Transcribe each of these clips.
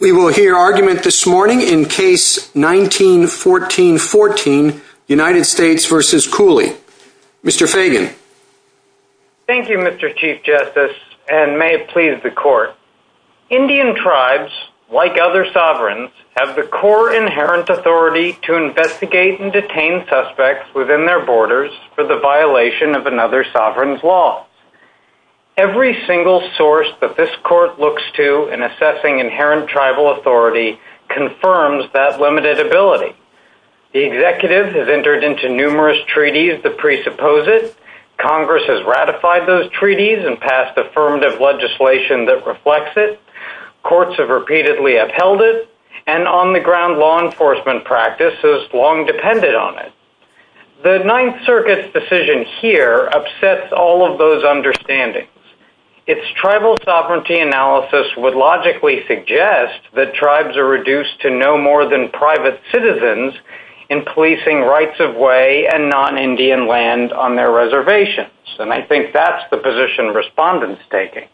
We will hear argument this morning in case 1914-14, United States v. Cooley. Mr. Fagan. Thank you Mr. Chief Justice and may it please the court. Indian tribes, like other sovereigns, have the core inherent authority to investigate and detain suspects within their borders for the violation of another sovereign's laws. Every single source that this court looks to in assessing inherent tribal authority confirms that limited ability. The executive has entered into numerous treaties to presuppose it. Congress has ratified those treaties and passed affirmative legislation that reflects it. Courts have repeatedly upheld it. And on the ground law enforcement practice has long depended on it. The Ninth Circuit's decision here upsets all of those understandings. Its tribal sovereignty analysis would logically suggest that tribes are reduced to no more than private citizens in policing rights of way and non-Indian land on their reservations. And I think that's the position respondents are taking.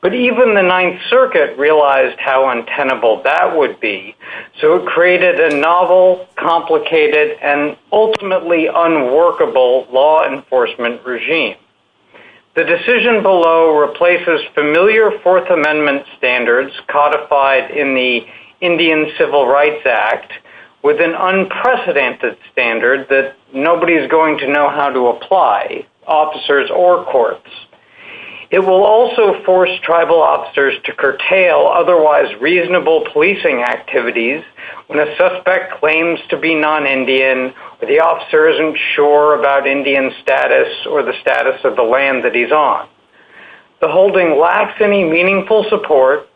But even the Ninth Circuit realized how untenable that would be. So it created a novel, complicated, and ultimately unworkable law enforcement regime. The decision below replaces familiar Fourth Amendment standards codified in the Indian Civil Rights Act with an unprecedented standard that nobody is going to know how to apply, officers or courts. It will also force tribal officers to curtail otherwise reasonable policing activities when a suspect claims to be non-Indian or the officer isn't sure about Indian status or the status of the land that he's on. The holding lacks any meaningful support,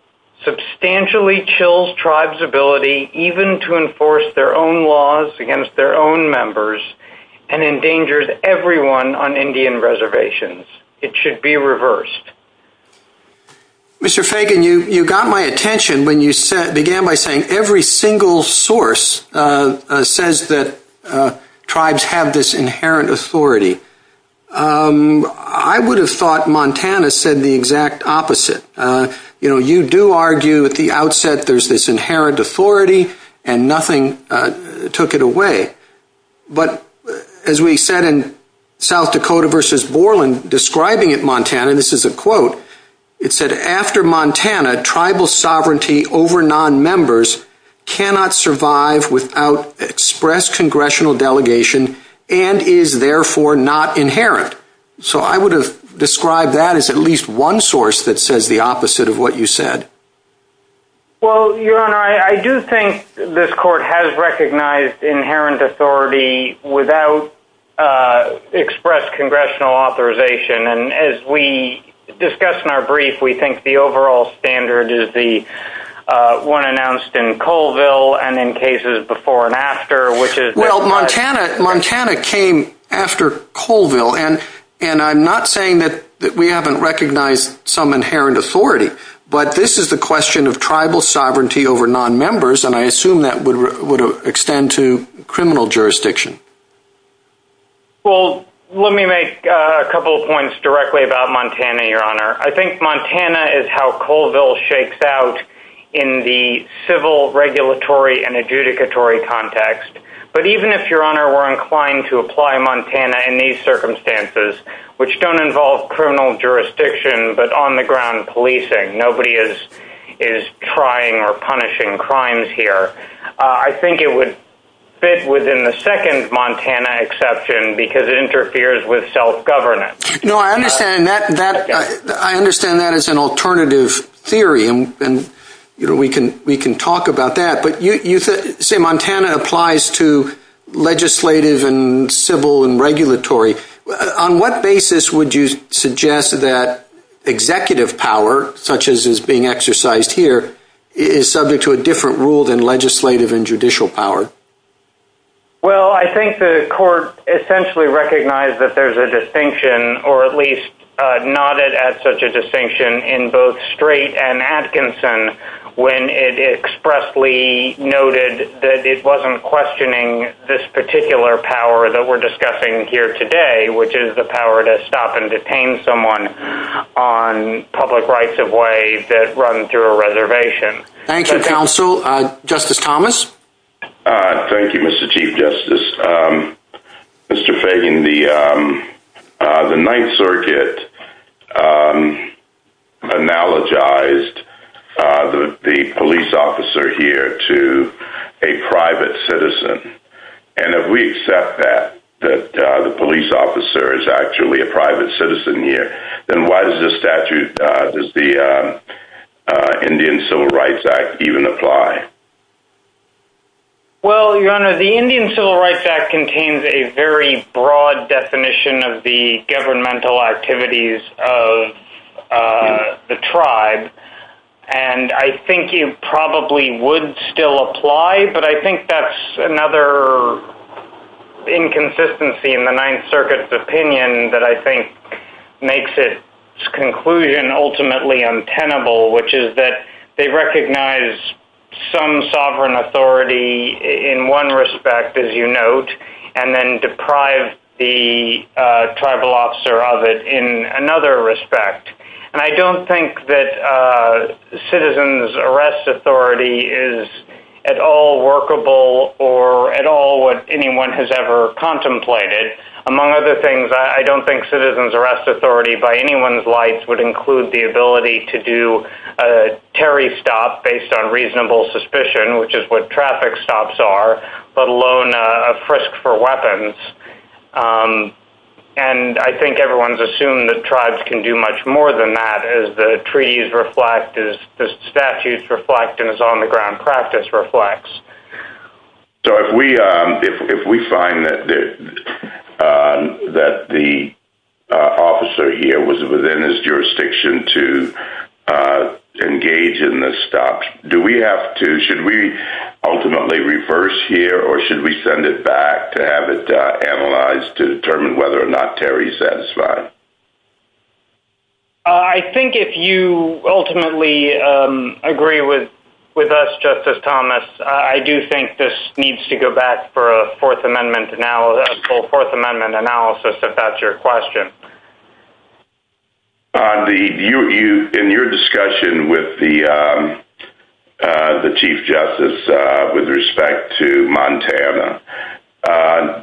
substantially chills tribes' ability even to enforce their own laws against their own members, and endangers everyone on Indian reservations. It should be reversed. Mr. Fagan, you got my attention when you began by saying every single source says that tribes have this inherent authority. I would have thought Montana said the exact opposite. You know, you do argue at the outset there's this inherent authority and nothing took it away. But as we said in South Dakota versus Borland describing it, Montana, this is a quote, it said, after Montana, tribal sovereignty over nonmembers cannot survive without express congressional delegation and is therefore not inherent. So I would have described that as at least one source that says the opposite of what you said. Well, your honor, I do think this court has recognized inherent authority without express congressional authorization. And as we discussed in our brief, we think the overall standard is the one announced in Colville and in cases before and after, which is- Well, Montana came after Colville. And I'm not saying that we haven't recognized some inherent authority, but this is the question of tribal sovereignty over nonmembers. And I assume that would extend to criminal jurisdiction. Well, let me make a couple of points directly about Montana, your honor. I think Montana is how Colville shakes out in the civil regulatory and adjudicatory context. But even if your honor were inclined to apply Montana in these circumstances, which don't involve criminal jurisdiction, but on the ground policing, nobody is trying or punishing crimes here. I think it would fit within the second Montana exception because it interferes with self-governance. No, I understand that as an alternative theory. And we can talk about that. Say Montana applies to legislative and civil and regulatory. On what basis would you suggest that executive power, such as is being exercised here, is subject to a different rule than legislative and judicial power? Well, I think the court essentially recognized that there's a distinction or at least nodded at such a distinction in both expressly noted that it wasn't questioning this particular power that we're discussing here today, which is the power to stop and detain someone on public rights of way that run through a reservation. Thank you, counsel, Justice Thomas. Thank you, Mr. Chief Justice. Mr. Fagan, the Ninth Circuit analogized the police officer here to a private citizen. And if we accept that, that the police officer is actually a private citizen here, then why does this statute, does the Indian Civil Rights Act even apply? Well, your honor, the Indian Civil Rights Act contains a very broad definition of the governmental activities of the tribe. And I think you probably would still apply, but I think that's another inconsistency in the Ninth Circuit's opinion that I think makes it conclusion ultimately untenable, which is that they recognize some sovereign authority in one respect, as you note, and then deprive the tribal officer of it in another respect. And I don't think that citizens' arrest authority is at all workable or at all what anyone has ever contemplated. Among other things, I don't think citizens' arrest authority by anyone's lights would include the ability to do a Terry stop based on reasonable suspicion, which is what traffic stops are, let alone a frisk for weapons. And I think everyone's assumed that tribes can do much more than that as the treaties reflect, as the statutes reflect, and as on-the-ground practice reflects. So if we find that the officer here was within his jurisdiction to engage in the stop, should we ultimately reverse here, or should we send it back to have it analyzed to determine whether or not Terry's satisfied? I think if you ultimately agree with us, Justice Thomas, I do think this needs to go back for a full Fourth Amendment analysis, if that's your question. In your discussion with the Chief Justice with respect to Montana,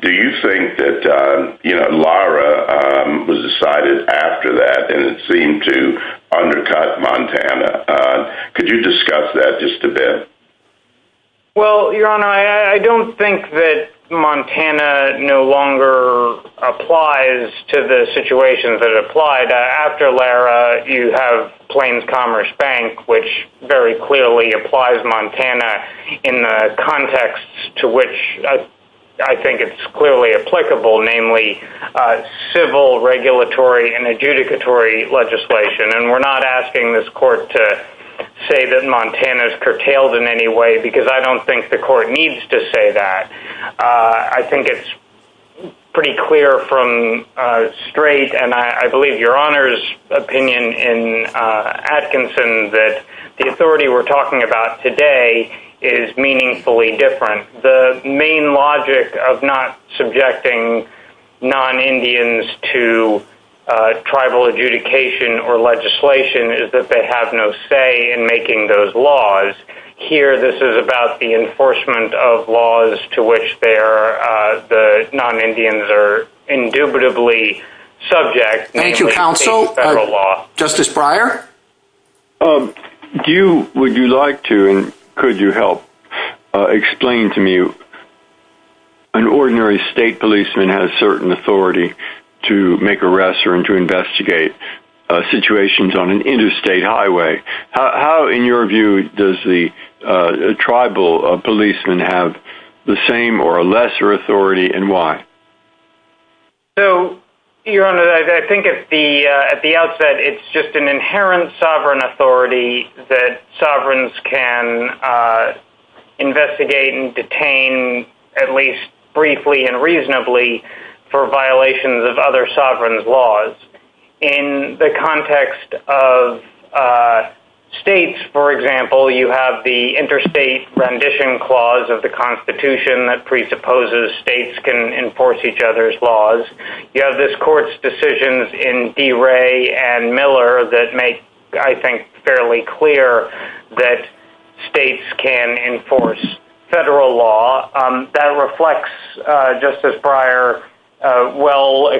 do you think that Lara was decided after that, and it seemed to undercut Montana? Could you discuss that just a bit? I think that Montana no longer applies to the situation that it applied. After Lara, you have Plains Commerce Bank, which very clearly applies Montana in the context to which I think it's clearly applicable, namely civil, regulatory, and adjudicatory legislation. And we're not asking this court to say that Montana's curtailed in any way, because I don't think the court needs to say that. I think it's pretty clear from straight, and I believe your Honor's opinion in Atkinson, that the authority we're talking about today is meaningfully different. The main logic of not subjecting non-Indians to tribal adjudication or legislation is that they have no say in making those laws. Here, this is about the enforcement of laws to which the non-Indians are indubitably subject. Thank you, counsel. Justice Breyer? Would you like to, and could you help, explain to me, an ordinary state policeman has certain authority to make arrests or to does the tribal policeman have the same or a lesser authority, and why? So, your Honor, I think at the outset, it's just an inherent sovereign authority that sovereigns can investigate and detain, at least briefly and reasonably, for violations of other sovereigns' laws. In the context of states, for example, you have the interstate rendition clause of the Constitution that presupposes states can enforce each other's laws. You have this court's decisions in DeRay and Miller that make, I think, fairly clear that states can enforce federal law. That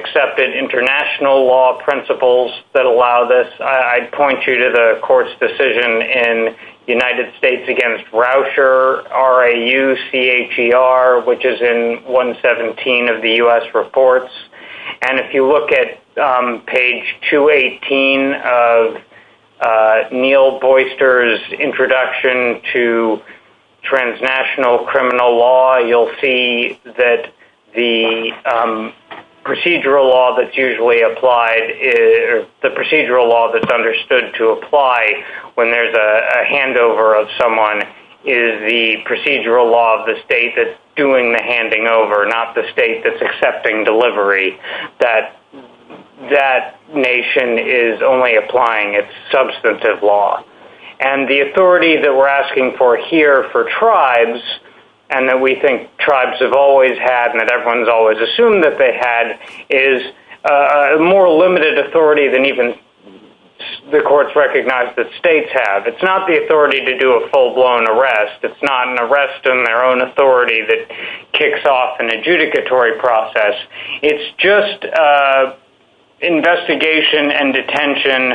accepted international law principles that allow this. I'd point you to the court's decision in United States Against Rousher, R-A-U-C-H-E-R, which is in 117 of the U.S. reports. And if you look at page 218 of Neil Boyster's introduction to transnational criminal law, you'll see that the procedural law that's understood to apply when there's a handover of someone is the procedural law of the state that's doing the handing over, not the state that's accepting delivery. That nation is only applying its substantive law. And the authority that we're asking for here for is a more limited authority than even the courts recognize that states have. It's not the authority to do a full-blown arrest. It's not an arrest in their own authority that kicks off an adjudicatory process. It's just investigation and detention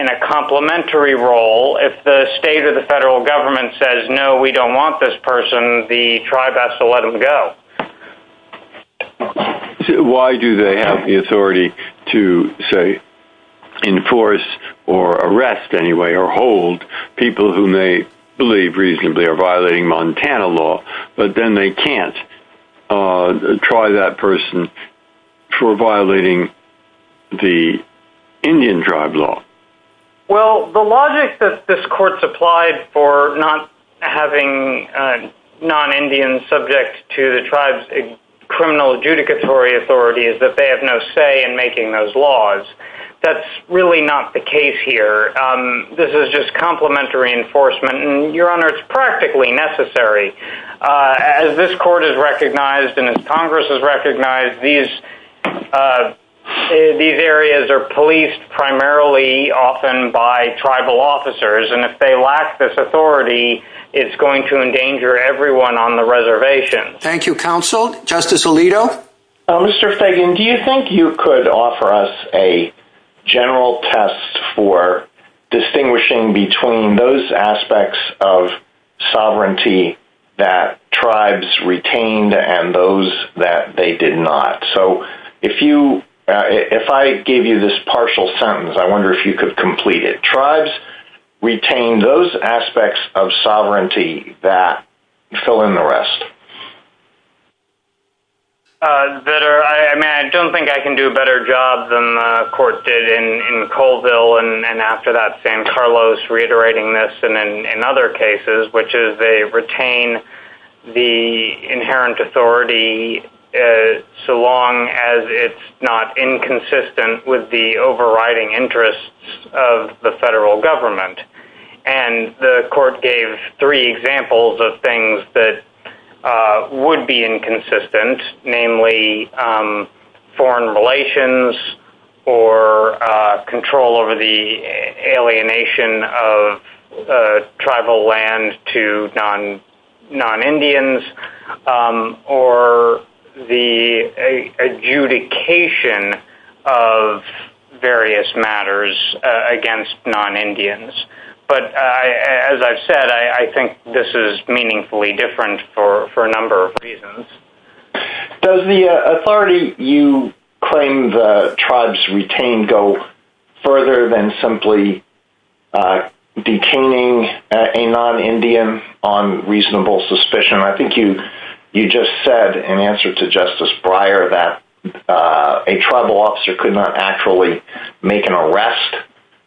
in a complementary role. If the state or the federal government says, no, we don't want this person, the tribe has to the authority to, say, enforce or arrest anyway, or hold people who may believe reasonably are violating Montana law, but then they can't try that person for violating the Indian tribe law. Well, the logic that this court supplied for not having non-Indians subject to the tribe's criminal adjudicatory authority is that they have no say in making those laws. That's really not the case here. This is just complementary enforcement. And, Your Honor, it's practically necessary. As this court has recognized and as Congress has recognized, these areas are policed primarily often by tribal officers. And if they lack this authority, it's going to endanger everyone on the reservation. Thank you, Counsel. Justice Alito? Mr. Fagan, do you think you could offer us a general test for distinguishing between those aspects of sovereignty that tribes retained and those that they did not? So, if I gave you this partial sentence, I wonder if you could tribes retained those aspects of sovereignty that fill in the rest? I don't think I can do a better job than the court did in Colville and after that San Carlos, reiterating this, and in other cases, which is they retain the inherent authority so long as it's not inconsistent with the overriding interests of the federal government. And the court gave three examples of things that would be inconsistent, namely foreign relations or control over the alienation of tribal land to non-Indians or the adjudication of various matters against non-Indians. But as I've said, I think this is meaningfully different for a number of reasons. Does the authority you claim the tribes retained go further than simply detaining a non-Indian on reasonable suspicion? I think you just said in answer to Justice Breyer that a tribal officer could not actually make an arrest.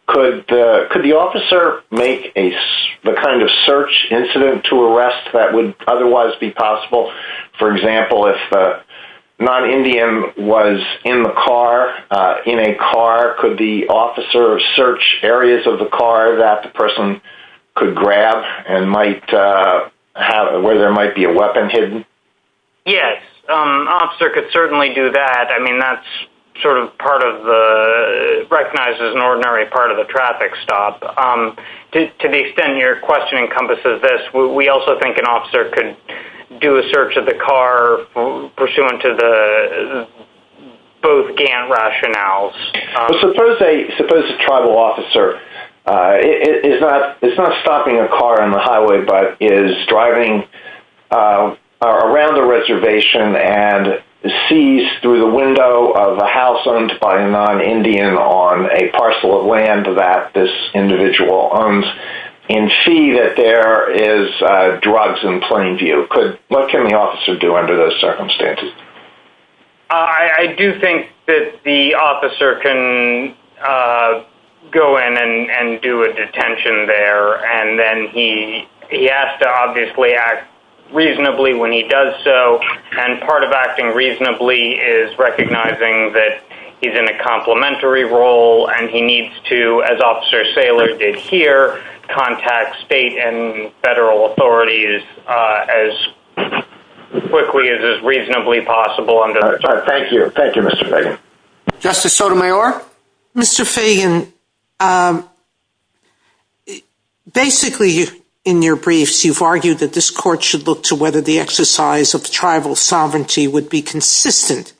Could the officer make the kind of search incident to arrest that would otherwise be possible? For example, if the non-Indian was in the car, in a car, could the officer search areas of the car that the person could grab and where there might be a weapon hidden? Yes, an officer could certainly do that. I mean, that's sort of part of the recognized as an ordinary part of the traffic stop. To the extent your question encompasses this, we also think an officer could do a search of the car pursuant to the both Gantt rationales. Suppose a tribal officer is not stopping a car on the highway, but is driving around the reservation and sees through the window of a house owned by a non-Indian on a parcel of land that this individual owns and see that there is drugs in plain view. What can the officer do under those circumstances? I do think that the officer can go in and do a detention there and then he has to obviously act reasonably when he does so. Part of acting reasonably is recognizing that he's in a complimentary role and he needs to, as Officer Saylor did here, contact state and as reasonably as possible. Thank you. Thank you, Mr. Fagan. Justice Sotomayor? Mr. Fagan, basically, in your briefs, you've argued that this court should look to whether the exercise of tribal sovereignty would be consistent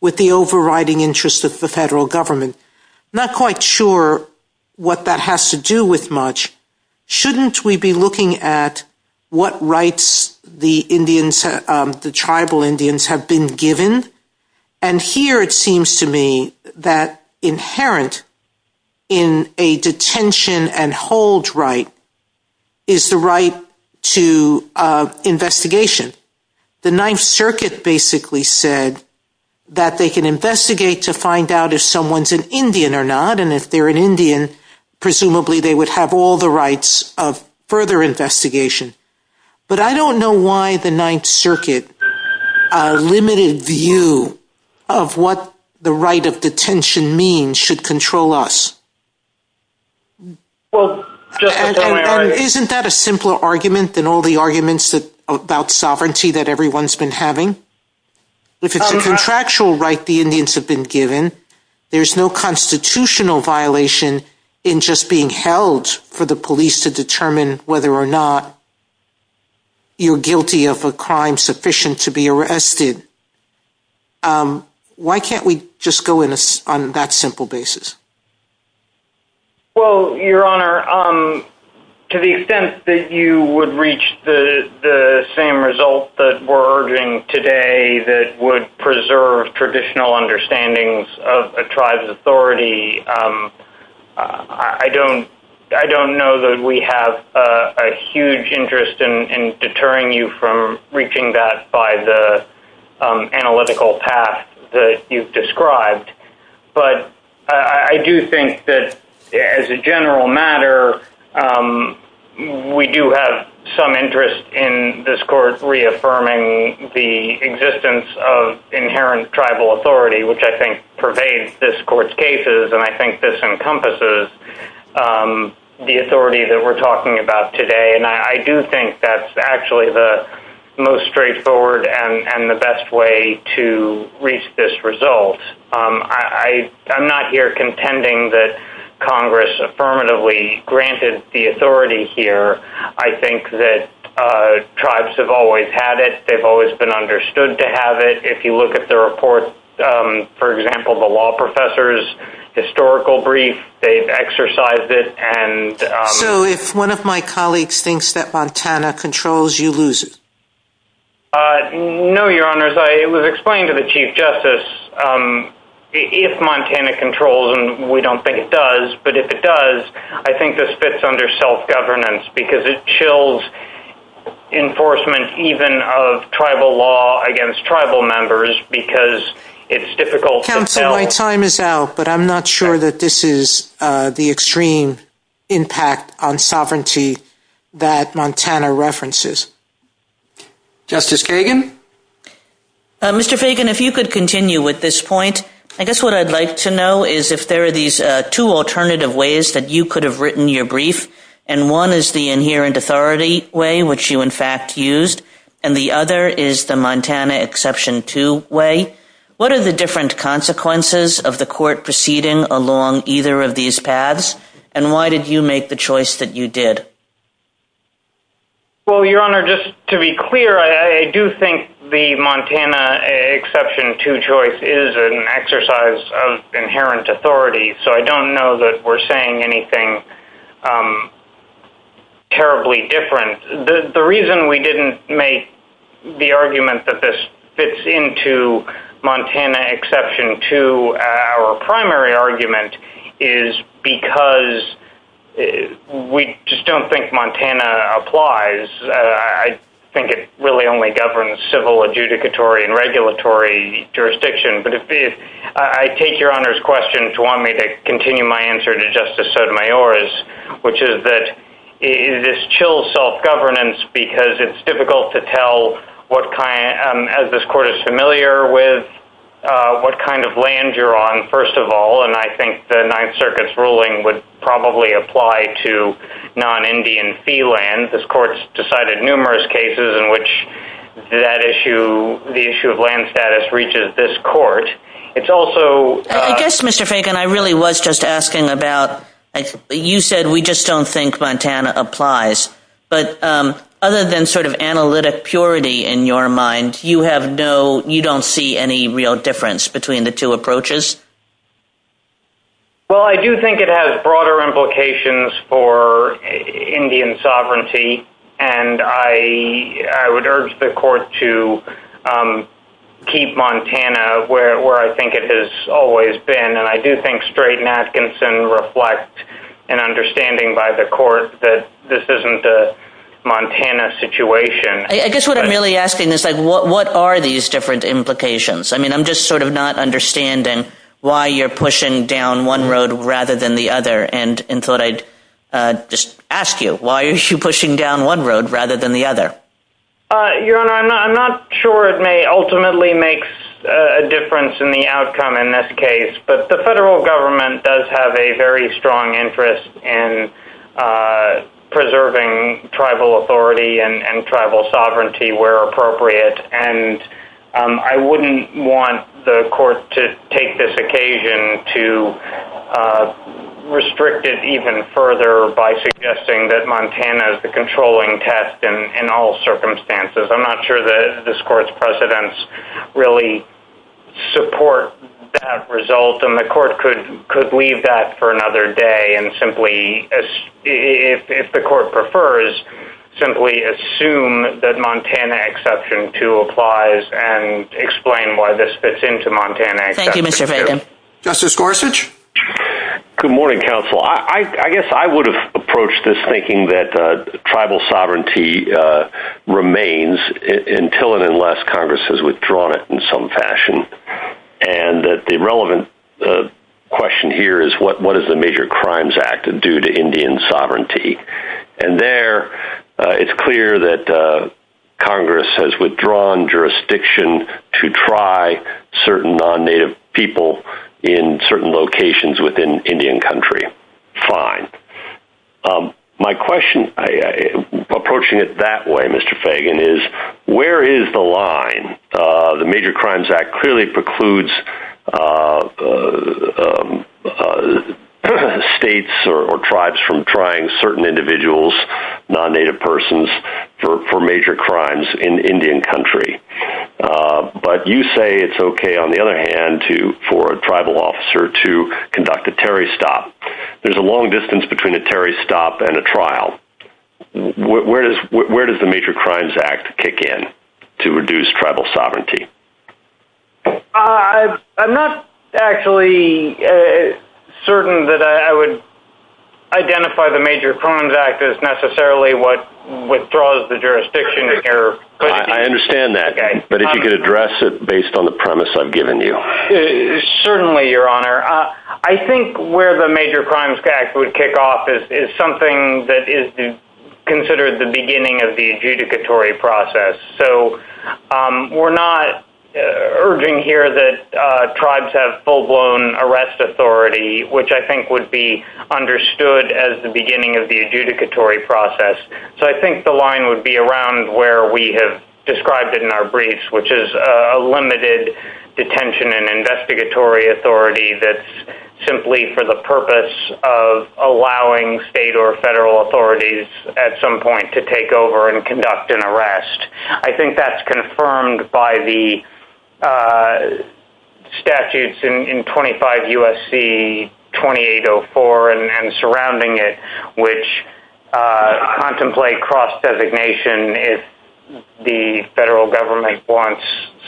with the overriding interest of the federal government. Not quite sure what that has to do with much. Shouldn't we be looking at what rights the Indians, the tribal Indians have been given? And here it seems to me that inherent in a detention and hold right is the right to investigation. The Ninth Circuit basically said that they can investigate to find out if someone's an Indian or not. And if they're an Indian, presumably they would have all the rights of further investigation. But I don't know why the Ninth Circuit's limited view of what the right of detention means should control us. Isn't that a simpler argument than all the arguments about sovereignty that everyone's been having? If it's a contractual right the Indians have been given, there's no constitutional violation in just being held for the police to determine whether or not you're guilty of a crime sufficient to be arrested. Why can't we just go in on that simple basis? Well, Your Honor, to the extent that you would reach the same result that we're arguing today that would I don't know that we have a huge interest in deterring you from reaching that by the analytical path that you've described. But I do think that as a general matter, we do have some interest in this court reaffirming the existence of inherent tribal authority, which I think pervades this court's cases. And I think this encompasses the authority that we're talking about today. And I do think that's actually the most straightforward and the best way to reach this result. I'm not here contending that Congress affirmatively granted the authority here. I think that tribes have always had it. They've always been understood to have it. If you look at the report, for example, the law professor's historical brief, they've exercised it. And so if one of my colleagues thinks that Montana controls, you lose. No, Your Honor, as I was explaining to the Chief Justice, if Montana controls and we don't think it does, but if it does, I think this fits under self-governance because it chills enforcement even of tribal law against tribal members because it's difficult to tell. Counsel, my time is out, but I'm not sure that this is the extreme impact on sovereignty that Montana references. Justice Kagan? Mr. Fagan, if you could continue with this point, I guess what I'd like to know is if there are these two alternative ways that you could have written your brief, and one is the inherent authority way, which you in fact used, and the other is the Montana Exception 2 way, what are the different consequences of the court proceeding along either of these paths? And why did you make the choice that you did? Well, Your Honor, just to be clear, I do think the Montana Exception 2 choice is an exercise of inherent authority, so I don't know that we're saying anything terribly different. The reason we didn't make the argument that this fits into Montana Exception 2, our primary argument, is because we just don't think Montana applies. I think it really only governs civil, adjudicatory, and regulatory jurisdiction. But I take Your Honor's question to want me to continue my answer to Justice Sotomayor's, which is that it chills self-governance because it's difficult to tell what kind, as this court is familiar with, what kind of land you're on, first of all, and I think the Ninth Circuit's ruling would probably apply to non-Indian fee land. This court's decided numerous cases in which that issue, the issue of land status, reaches this court. It's also... I guess, Mr. Fagan, I really was just asking about, you said we just don't think Montana applies, but other than sort of analytic purity in your mind, you have no, you don't see any real difference between the two approaches? Well, I do think it has broader implications for Indian sovereignty, and I would urge the court to keep Montana where I think it has always been, and I do think Strait and Atkinson reflect an understanding by the court that this isn't a Montana situation. I guess what I'm really asking is, like, what are these different implications? I mean, I'm just sort of not understanding why you're pushing down one road rather than the other, and thought I'd just ask you, why are you pushing down one road rather than the other? Your Honor, I'm not sure it may ultimately make a difference in the outcome in this case, but the federal government does have a very strong interest in preserving tribal authority and tribal sovereignty where appropriate, and I wouldn't want the court to take this occasion to restrict it even further by suggesting that Montana is the controlling test in all circumstances. I'm not sure that this court's precedents really support that result, and the court could leave that for another day and simply, if the court prefers, simply assume that Montana Exception 2 applies and explain why this fits into Montana. Thank you, Mr. Fagan. Justice Gorsuch? Good morning, counsel. I guess I would have approached this thinking that tribal sovereignty remains until and unless Congress has withdrawn it in some fashion, and that the relevant question here is, what does the Major Crimes Act do to Indian sovereignty? And there, it's clear that Congress has withdrawn jurisdiction to try certain non-Native people in certain locations within Indian Country. Fine. My question, approaching it that way, Mr. Fagan, is, where is the line? The Major Crimes Act clearly precludes states or tribes from trying certain individuals, non-Native persons, for major crimes in Indian Country. But you say it's okay, on the other hand, for a tribal officer to conduct a terrorist stop. There's a long distance between a terrorist stop and a trial. Where does the Major Crimes Act kick in to reduce tribal sovereignty? I'm not actually certain that I would identify the Major Crimes Act as necessarily what withdraws the jurisdiction. I understand that, but if you could address it based on the premise I've given you. Certainly, Your Honor. I think where the Major Crimes Act would kick off is something that is considered the beginning of the adjudicatory process. So, we're not urging here that tribes have full-blown arrest authority, which I think would be understood as the beginning of the adjudicatory process. So, I think the line would be around where we have described it in our detention and investigatory authority that's simply for the purpose of allowing state or federal authorities, at some point, to take over and conduct an arrest. I think that's confirmed by the statutes in 25 U.S.C. 2804 and surrounding it, which contemplate cross designation if federal government wants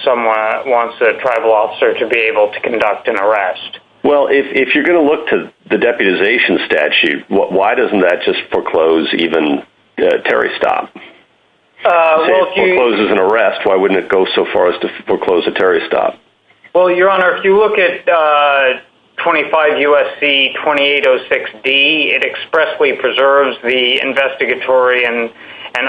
a tribal officer to be able to conduct an arrest. Well, if you're going to look to the deputization statute, why doesn't that just foreclose even terrorist stop? If it forecloses an arrest, why wouldn't it go so far as to foreclose a terrorist stop? Well, Your Honor, if you look at 25 U.S.C. 2806D, it expressly preserves the investigatory and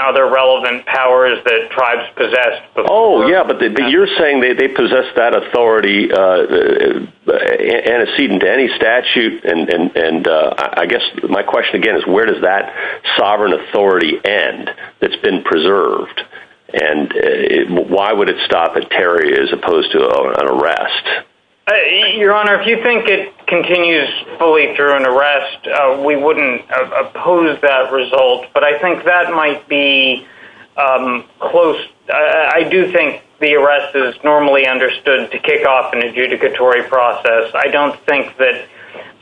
other relevant powers that tribes possess. Oh, yeah, but you're saying they possess that authority antecedent to any statute. And I guess my question, again, is where does that sovereign authority end that's been preserved? And why would it stop a terrorist as opposed to an arrest? Your Honor, if you think it continues fully through an arrest, we wouldn't oppose that but I think that might be close. I do think the arrest is normally understood to kick off an adjudicatory process. I don't think that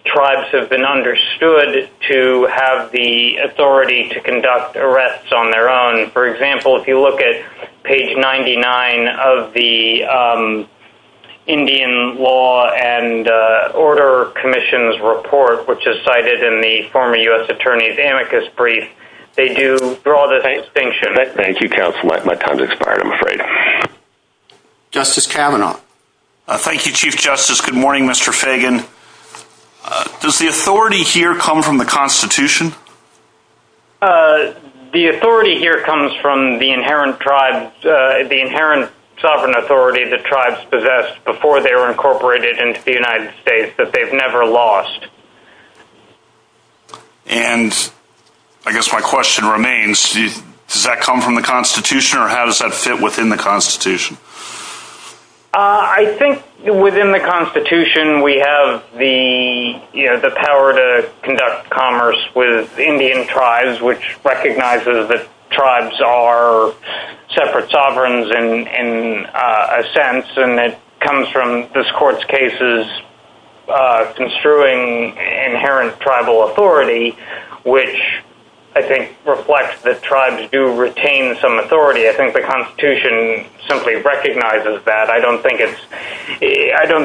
tribes have been understood to have the authority to conduct arrests on their own. For example, if you look at page 99 of the Indian Law and Order Commission's report, which is cited in the former U.S. Attorney's amicus brief, they do draw the distinction. Thank you, counsel. My time's expired, I'm afraid. Justice Kavanaugh. Thank you, Chief Justice. Good morning, Mr. Fagan. Does the authority here come from the Constitution? The authority here comes from the inherent sovereign authority that tribes possessed before they were incorporated into the United States that they've never lost. And I guess my question remains, does that come from the Constitution or how does that fit within the Constitution? I think within the Constitution we have the power to conduct commerce with this country. I don't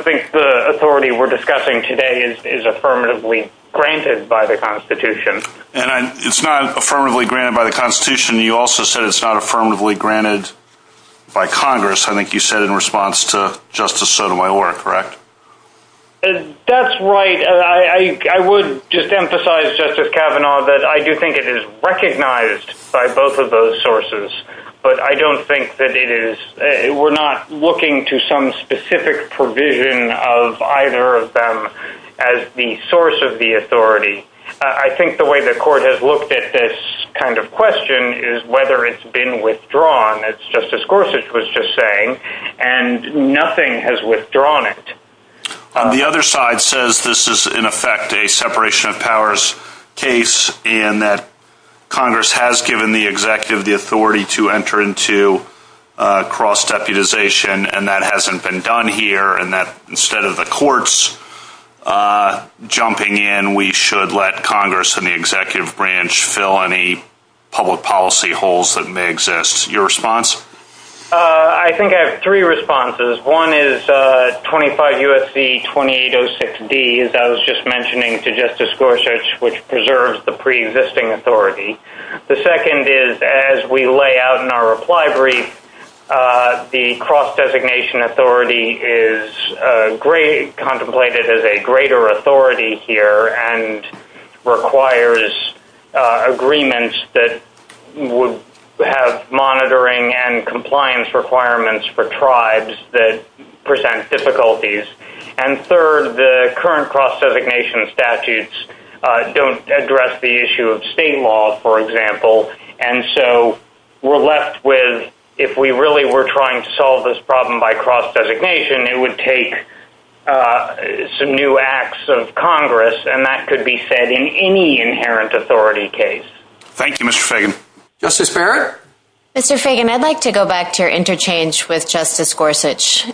think the authority we're discussing today is affirmatively granted by the Constitution. And it's not affirmatively granted by the Constitution, you also said it's not affirmatively granted by Congress. I think you said in response to Justice Sotomayor, correct? That's right. I would just emphasize, Justice Kavanaugh, that I do think it is recognized by both of those sources, but I don't think that it is. We're not looking to some specific provision of either of them as the source of the authority. I think the way the court has looked at this kind of question is whether it's been withdrawn, as Justice Gorsuch was just saying, and nothing has withdrawn it. On the other side says this is in effect a separation of powers case and that Congress has given the executive the authority to enter into cross-deputization and that hasn't been done here and that instead of the courts jumping in, we should let Congress and the executive branch fill any public policy holes that may exist. Your response? I think I have three responses. One is 25 U.S.C. 2806 D, as I was just mentioning to Justice Gorsuch, which preserves the pre-existing authority. The second is as we lay out in our great contemplated as a greater authority here and requires agreements that would have monitoring and compliance requirements for tribes that present difficulties. And third, the current cross-designation statutes don't address the issue of state law, for example, and so we're left with if we really were trying to solve this problem by cross-designation, it would take some new acts of Congress and that could be said in any inherent authority case. Thank you, Mr. Fagan. Justice Barrett? Mr. Fagan, I'd like to go back to your interchange with Justice Gorsuch.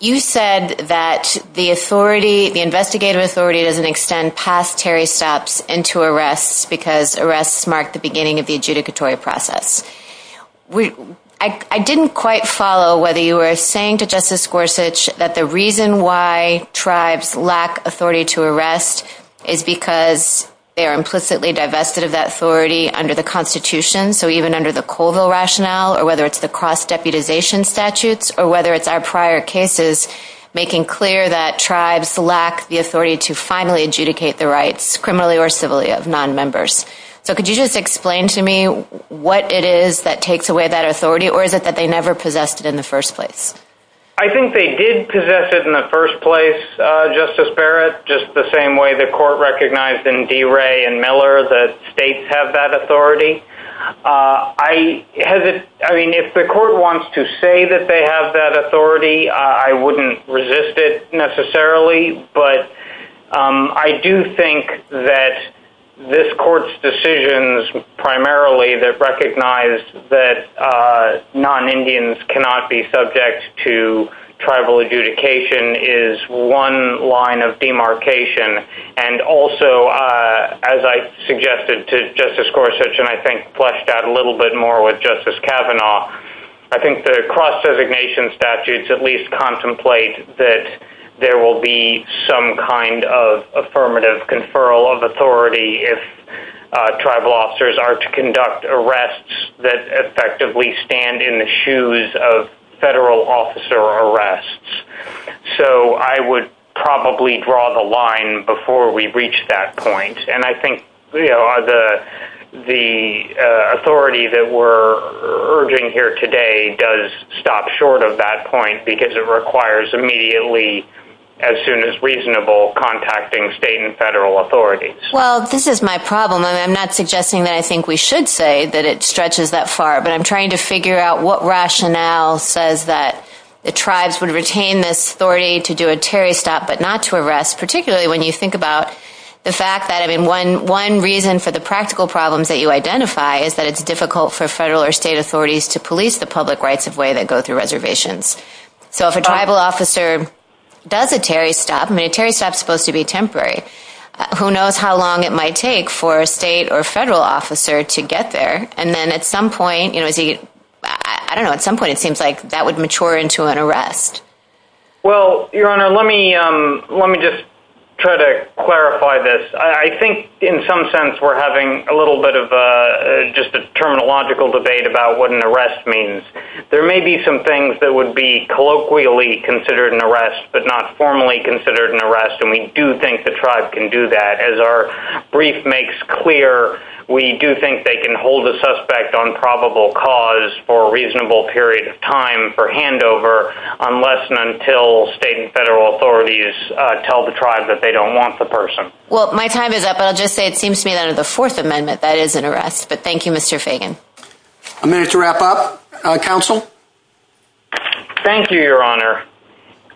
You said that the authority, the investigative authority doesn't extend past Terry stops into arrests because arrests mark the beginning of the adjudicatory process. I didn't quite follow whether you were saying to Justice Gorsuch that the reason why tribes lack authority to arrest is because they are implicitly divested of that authority under the Constitution. So even under the Colville rationale or whether it's the cross-deputization statutes or whether it's our prior cases making clear that tribes lack the authority to finally adjudicate the rights, so could you just explain to me what it is that takes away that authority or is it that they never possessed it in the first place? I think they did possess it in the first place, Justice Barrett, just the same way the court recognized in DeRay and Miller that states have that authority. I mean, if the court wants to say that they have that authority, I wouldn't resist it necessarily, but I do think that this court's decisions primarily that recognize that non-Indians cannot be subject to tribal adjudication is one line of demarcation and also, as I suggested to Justice Gorsuch and I think fleshed out a little bit more with Justice Kavanaugh, I think the cross-designation statutes at least contemplate that there will be some kind of affirmative conferral of authority if tribal officers are to conduct arrests that effectively stand in the shoes of federal officer arrests. So I would probably draw the line before we reach that point, and I think the authority that we're urging here today does stop short of that point because it requires immediately, as soon as reasonable, contacting state and federal authorities. Well, this is my problem and I'm not suggesting that I think we should say that it stretches that far, but I'm trying to figure out what rationale says that the tribes would retain this authority to do a for the practical problems that you identify is that it's difficult for federal or state authorities to police the public rights-of-way that go through reservations. So if a tribal officer does a Terry stop, I mean a Terry stop is supposed to be temporary, who knows how long it might take for a state or federal officer to get there and then at some point, you know, I don't know, at some point it seems like that would mature into an arrest. Well, Your Honor, let me just try to we're having a little bit of just a terminological debate about what an arrest means. There may be some things that would be colloquially considered an arrest but not formally considered an arrest, and we do think the tribe can do that. As our brief makes clear, we do think they can hold a suspect on probable cause for a reasonable period of time for handover unless and until state and federal authorities tell the tribe that they don't want the person. Well, my time is up, but I'll just say it seems to me that under the Fourth Amendment, that is an arrest. But thank you, Mr. Fagan. A minute to wrap up. Counsel. Thank you, Your Honor.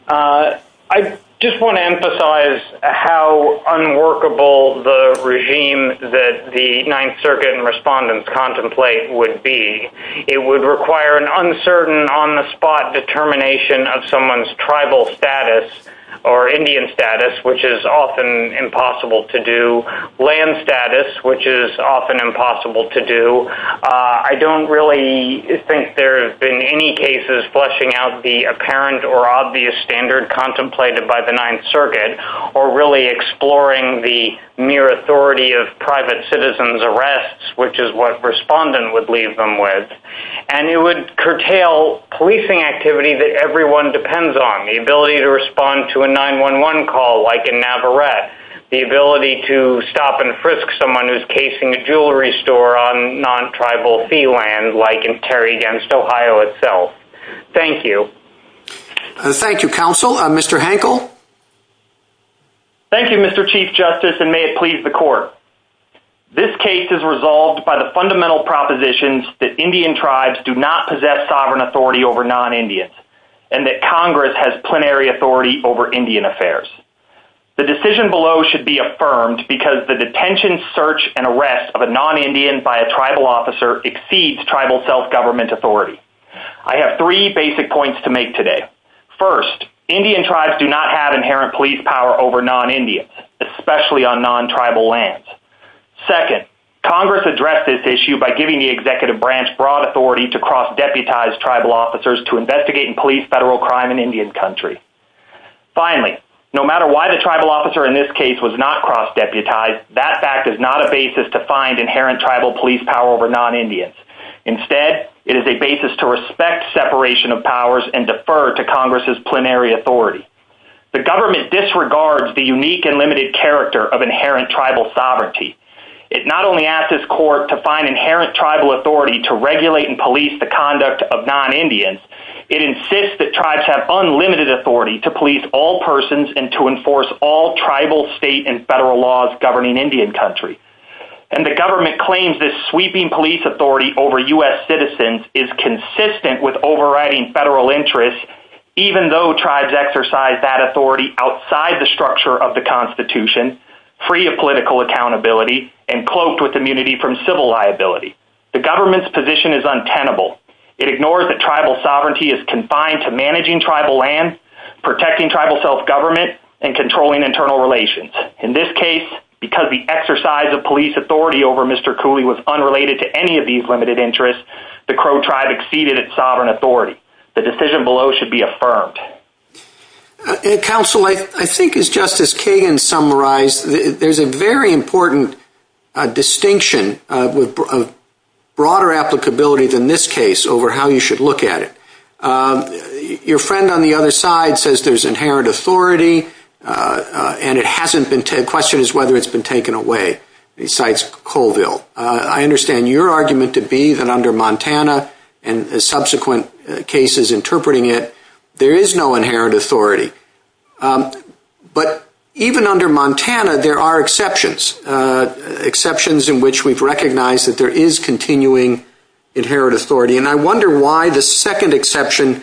I just want to emphasize how unworkable the regime that the Ninth Circuit and respondents contemplate would be. It would require an uncertain on-the-spot determination of someone's tribal status or Indian status, which is often impossible to do, land status, which is often impossible to do. I don't really think there have been any cases fleshing out the apparent or obvious standard contemplated by the Ninth Circuit or really exploring the mere authority of private citizens arrests, which is what respondent would leave them with. And it would curtail policing activity that everyone depends on, the ability to respond to a 911 call like in Navarrette, the ability to stop and frisk someone who's casing a jewelry store on non-tribal fee land like in Terry against Ohio itself. Thank you. Thank you, Counsel. Mr. Hankel. Thank you, Mr. Chief Justice, and may it please the Court. This case is resolved by the fundamental propositions that Indian tribes do not possess sovereign authority over non-Indians and that Congress has plenary authority over Indian affairs. The decision below should be affirmed because the detention, search, and arrest of a non-Indian by a tribal officer exceeds tribal self-government authority. I have three basic points to make today. First, Indian tribes do not have inherent police power over non-Indians, especially on non-tribal lands. Second, Congress addressed this issue by giving the executive branch broad authority to cross-deputize tribal officers to investigate in police federal crime in Indian country. Finally, no matter why the tribal officer in this case was not cross-deputized, that fact is not a basis to find inherent tribal police power over non-Indians. Instead, it is a basis to respect separation of powers and defer to Congress's plenary authority. The government disregards the unique and limited character of inherent tribal authority to regulate and police the conduct of non-Indians. It insists that tribes have unlimited authority to police all persons and to enforce all tribal, state, and federal laws governing Indian country. And the government claims this sweeping police authority over U.S. citizens is consistent with overriding federal interests, even though tribes exercise that authority outside the structure of the Constitution, free of political accountability, and cloaked with civil liability. The government's position is untenable. It ignores that tribal sovereignty is confined to managing tribal lands, protecting tribal self-government, and controlling internal relations. In this case, because the exercise of police authority over Mr. Cooley was unrelated to any of these limited interests, the Crow tribe exceeded its sovereign authority. The decision below should be affirmed. Counsel, I think as Justice Kagan summarized, there's a very important distinction of broader applicability than this case over how you should look at it. Your friend on the other side says there's inherent authority, and the question is whether it's been taken away, besides Colville. I understand your argument to be that under Montana and subsequent cases interpreting it, there is no inherent authority. But even under Montana, there are exceptions, exceptions in which we've recognized that there is continuing inherent authority. And I wonder why the second exception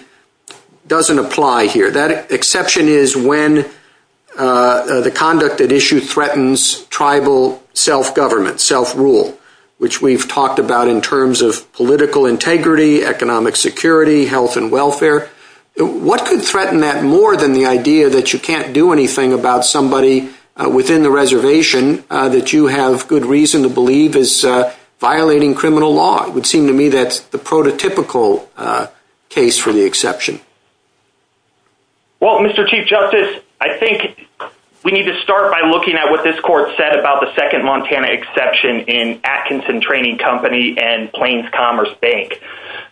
doesn't apply here. That exception is when the conduct at issue threatens tribal self-government, self-rule, which we've talked about in terms of political integrity, economic security, health and welfare. What could threaten that more than the idea that you can't do anything about somebody within the reservation that you have good reason to believe is violating criminal law? It would seem to me that's the prototypical case for the exception. Well, Mr. Chief Justice, I think we need to start by looking at what this court said about the second Montana exception in Atkinson Training Company and Plains Commerce Bank.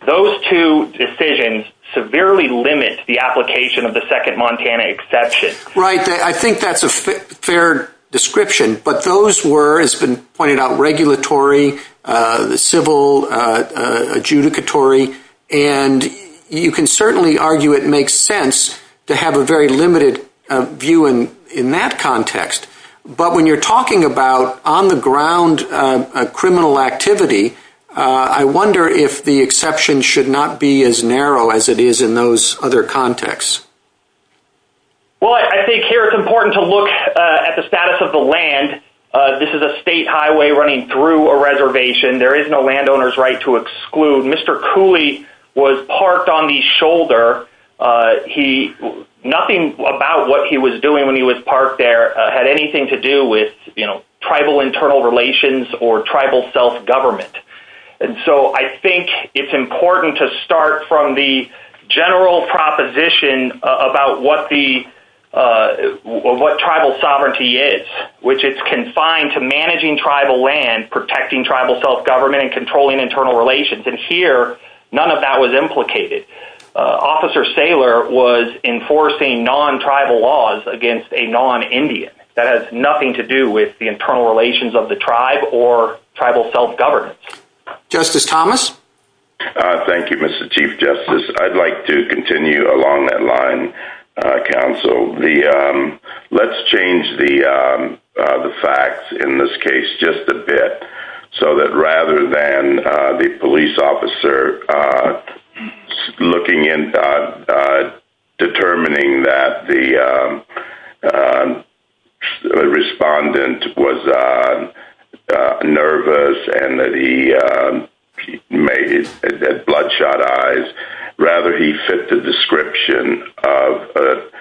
Those two decisions severely limit the application of the second Montana exception. Right. I think that's a fair description. But those were, as has been pointed out, regulatory, civil, adjudicatory. And you can certainly argue it makes sense to have a very limited view in that context. But when you're talking about on-the-ground criminal activity, I wonder if the exception should not be as narrow as it is in those other contexts. Well, I think here it's important to look at the status of the land. This is a state highway running through a reservation. There is no landowner's right to exclude. Mr. Cooley was parked on the shoulder. Nothing about what he was doing when he was parked there had anything to do with tribal internal relations or tribal self-government. And so I think it's important to start from the general proposition about what tribal sovereignty is, which it's confined to managing tribal land, protecting tribal self-government, and controlling internal relations. And here, none of that was implicated. Officer Saylor was enforcing non-tribal laws against a non-Indian. That has nothing to do with the internal relations of the tribe or tribal self-government. Justice Thomas? Thank you, Mr. Chief Justice. I'd like to continue along that line, counsel. Let's change the facts in this case just a bit so that rather than the police officer determining that the respondent was nervous and that he had bloodshot eyes, rather he fit the description of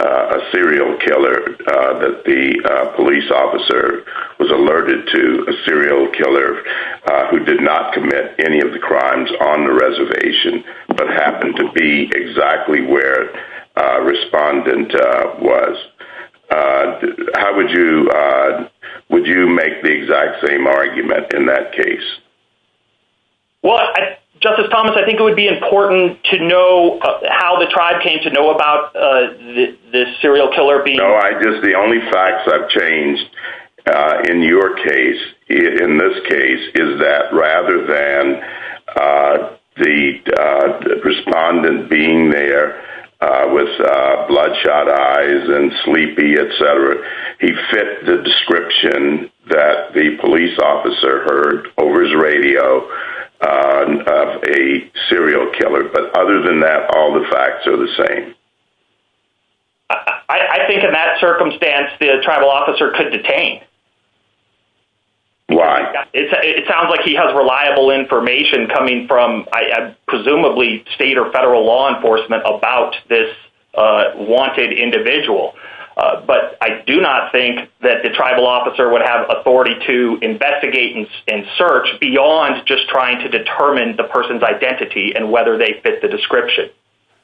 a serial killer, that the police officer was alerted to a serial killer who did not commit any of the crimes on the reservation but happened to be exactly where the respondent was. How would you make the exact same argument in that case? Well, Justice Thomas, I think it would be important to know how the tribe came to know about this serial killer being— No, I just—the only facts I've changed in your case, in this case, is that rather than the respondent being there with bloodshot eyes and sleepy, et cetera, he fit the description that the police officer heard over his radio of a serial killer. But other than that, all the facts are the same. I think in that circumstance, the tribal officer could detain. Why? It sounds like he has reliable information coming from, presumably, state or federal law enforcement about this wanted individual. But I do not think that the tribal officer would have authority to investigate and search beyond just trying to determine the person's identity and whether they fit the description.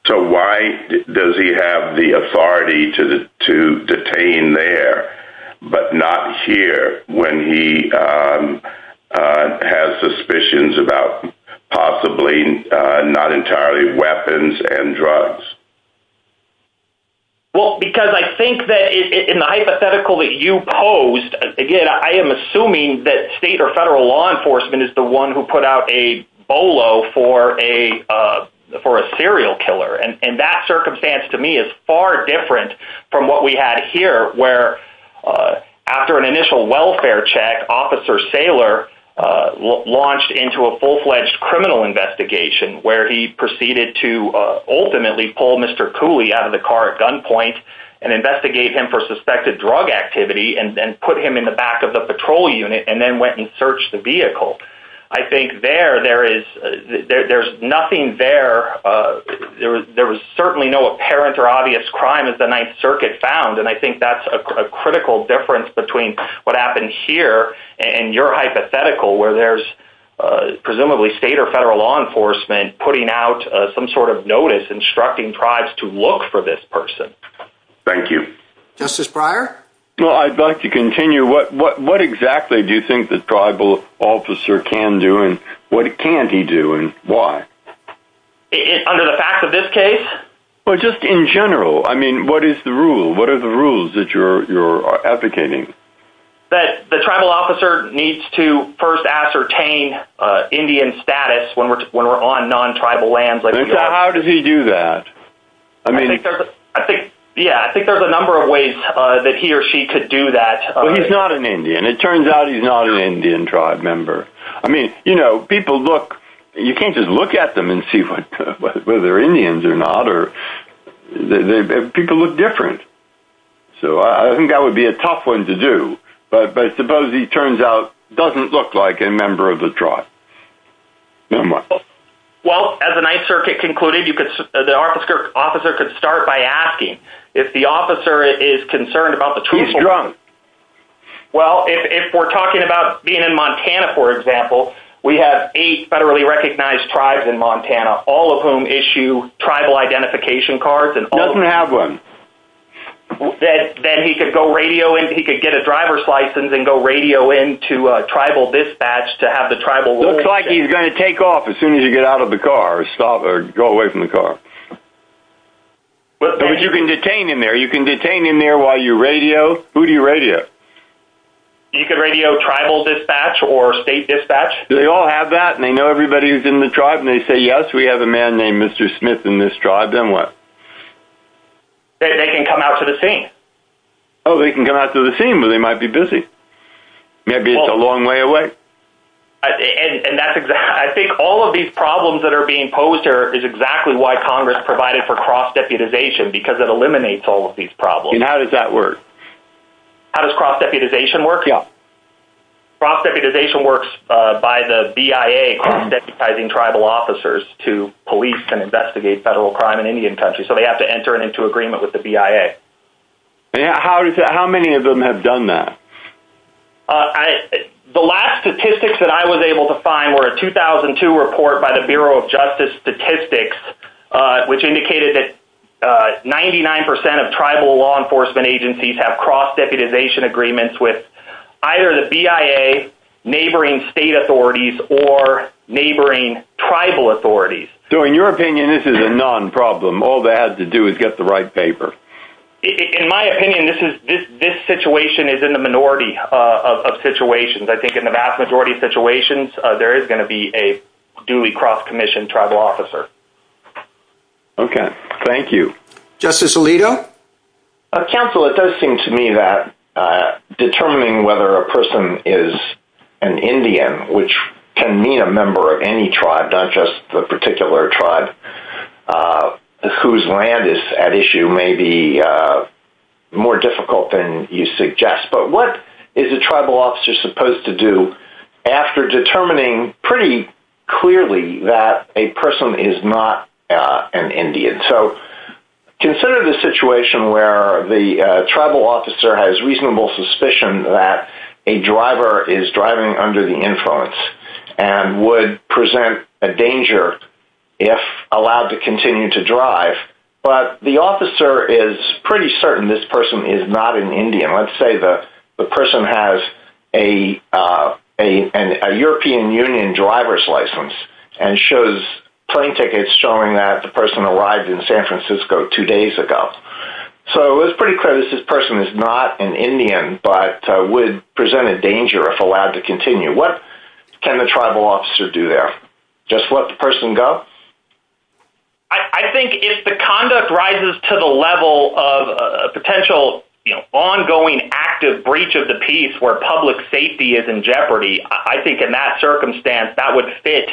So why does he have the authority to detain there but not here when he has suspicions about possibly not entirely weapons and drugs? Well, because I think that in the hypothetical that you posed, again, I am assuming that state or federal law enforcement is the one who put out a BOLO for a serial killer. And that circumstance, to me, is far different from what we had here where, after an initial welfare check, Officer Saylor launched into a full-fledged criminal investigation where he proceeded to ultimately pull Mr. Cooley out of the car at gunpoint and investigate him for suspected drug activity and put him in the back of the patrol unit and then went and searched the vehicle. I think there, there is nothing there. There was certainly no apparent or obvious crime as the Ninth Circuit found. And I think that's a critical difference between what happened here and your hypothetical where there's presumably state or federal law enforcement putting out some sort of notice instructing tribes to look for this person. Thank you. Justice Breyer? Well, I'd like to continue. What exactly do you think the tribal officer can do and what can't he do and why? Under the facts of this case? Well, just in general. I mean, what is the rule? What are the rules that you're advocating? That the tribal officer needs to first ascertain Indian status when we're on non-tribal lands. How does he do that? I mean, I think, yeah, I think there's a number of ways that he or she could do that. Well, he's not an Indian. It turns out he's not an Indian tribe member. I mean, you know, people look, you can't just look at them and see whether they're Indians or not, or people look different. So I think that would be a tough one to do. But suppose he turns out doesn't look like a member of the tribe. Well, as the Ninth Circuit concluded, you could, the officer could start by asking if the officer is concerned about the truth. He's drunk. Well, if we're talking about being in Montana, for example, we have eight federally recognized tribes in Montana, all of whom issue tribal identification cards. He doesn't have one. Then he could go radio in, he could get a driver's license and go radio in to a tribal dispatch to have the tribal... Looks like he's going to take off as soon as you get out of the car or stop or go away from the car. But you can detain him there. You can detain him there while you radio. Who do you radio? You can radio tribal dispatch or state dispatch. They all have that and they know everybody who's in the tribe and they say, yes, we have a man named Mr. Smith in this tribe, then what? They can come out to the scene. Oh, they can come out to the scene, but they might be busy. Maybe it's a long way away. And that's exactly... I think all of these problems that are being posed here is exactly why Congress provided for cross-deputization, because it eliminates all of these problems. And how does that work? How does cross-deputization work? Cross-deputization works by the BIA cross-deputizing tribal officers to police and investigate federal crime in Indian country. So they have to enter into agreement with the BIA. How many of them have done that? I... The last statistics that I was able to find were a 2002 report by the Bureau of Justice Statistics, which indicated that 99% of tribal law enforcement agencies have cross-deputization agreements with either the BIA, neighboring state authorities, or neighboring tribal authorities. So in your opinion, this is a non-problem. All they had to do is get the right paper. In my opinion, this situation is in the minority of situations. I think in the vast majority of situations, there is going to be a duly cross-commissioned tribal officer. Okay. Thank you. Justice Alito? Counsel, it does seem to me that determining whether a person is an Indian, which can mean a member of any tribe, not just the particular tribe whose land is at issue, may be more difficult than you suggest. But what is a tribal officer supposed to do after determining pretty clearly that a person is not an Indian? So consider the situation where the tribal officer has reasonable suspicion that a driver is driving under the influence and would present a danger if allowed to continue to drive. But the officer is pretty certain this person is not an Indian. Let's say the person has a European Union driver's license and shows plane tickets showing that the person is not an Indian but would present a danger if allowed to continue. What can the tribal officer do there? Just let the person go? I think if the conduct rises to the level of a potential ongoing active breach of the peace where public safety is in jeopardy, I think in that circumstance that would fit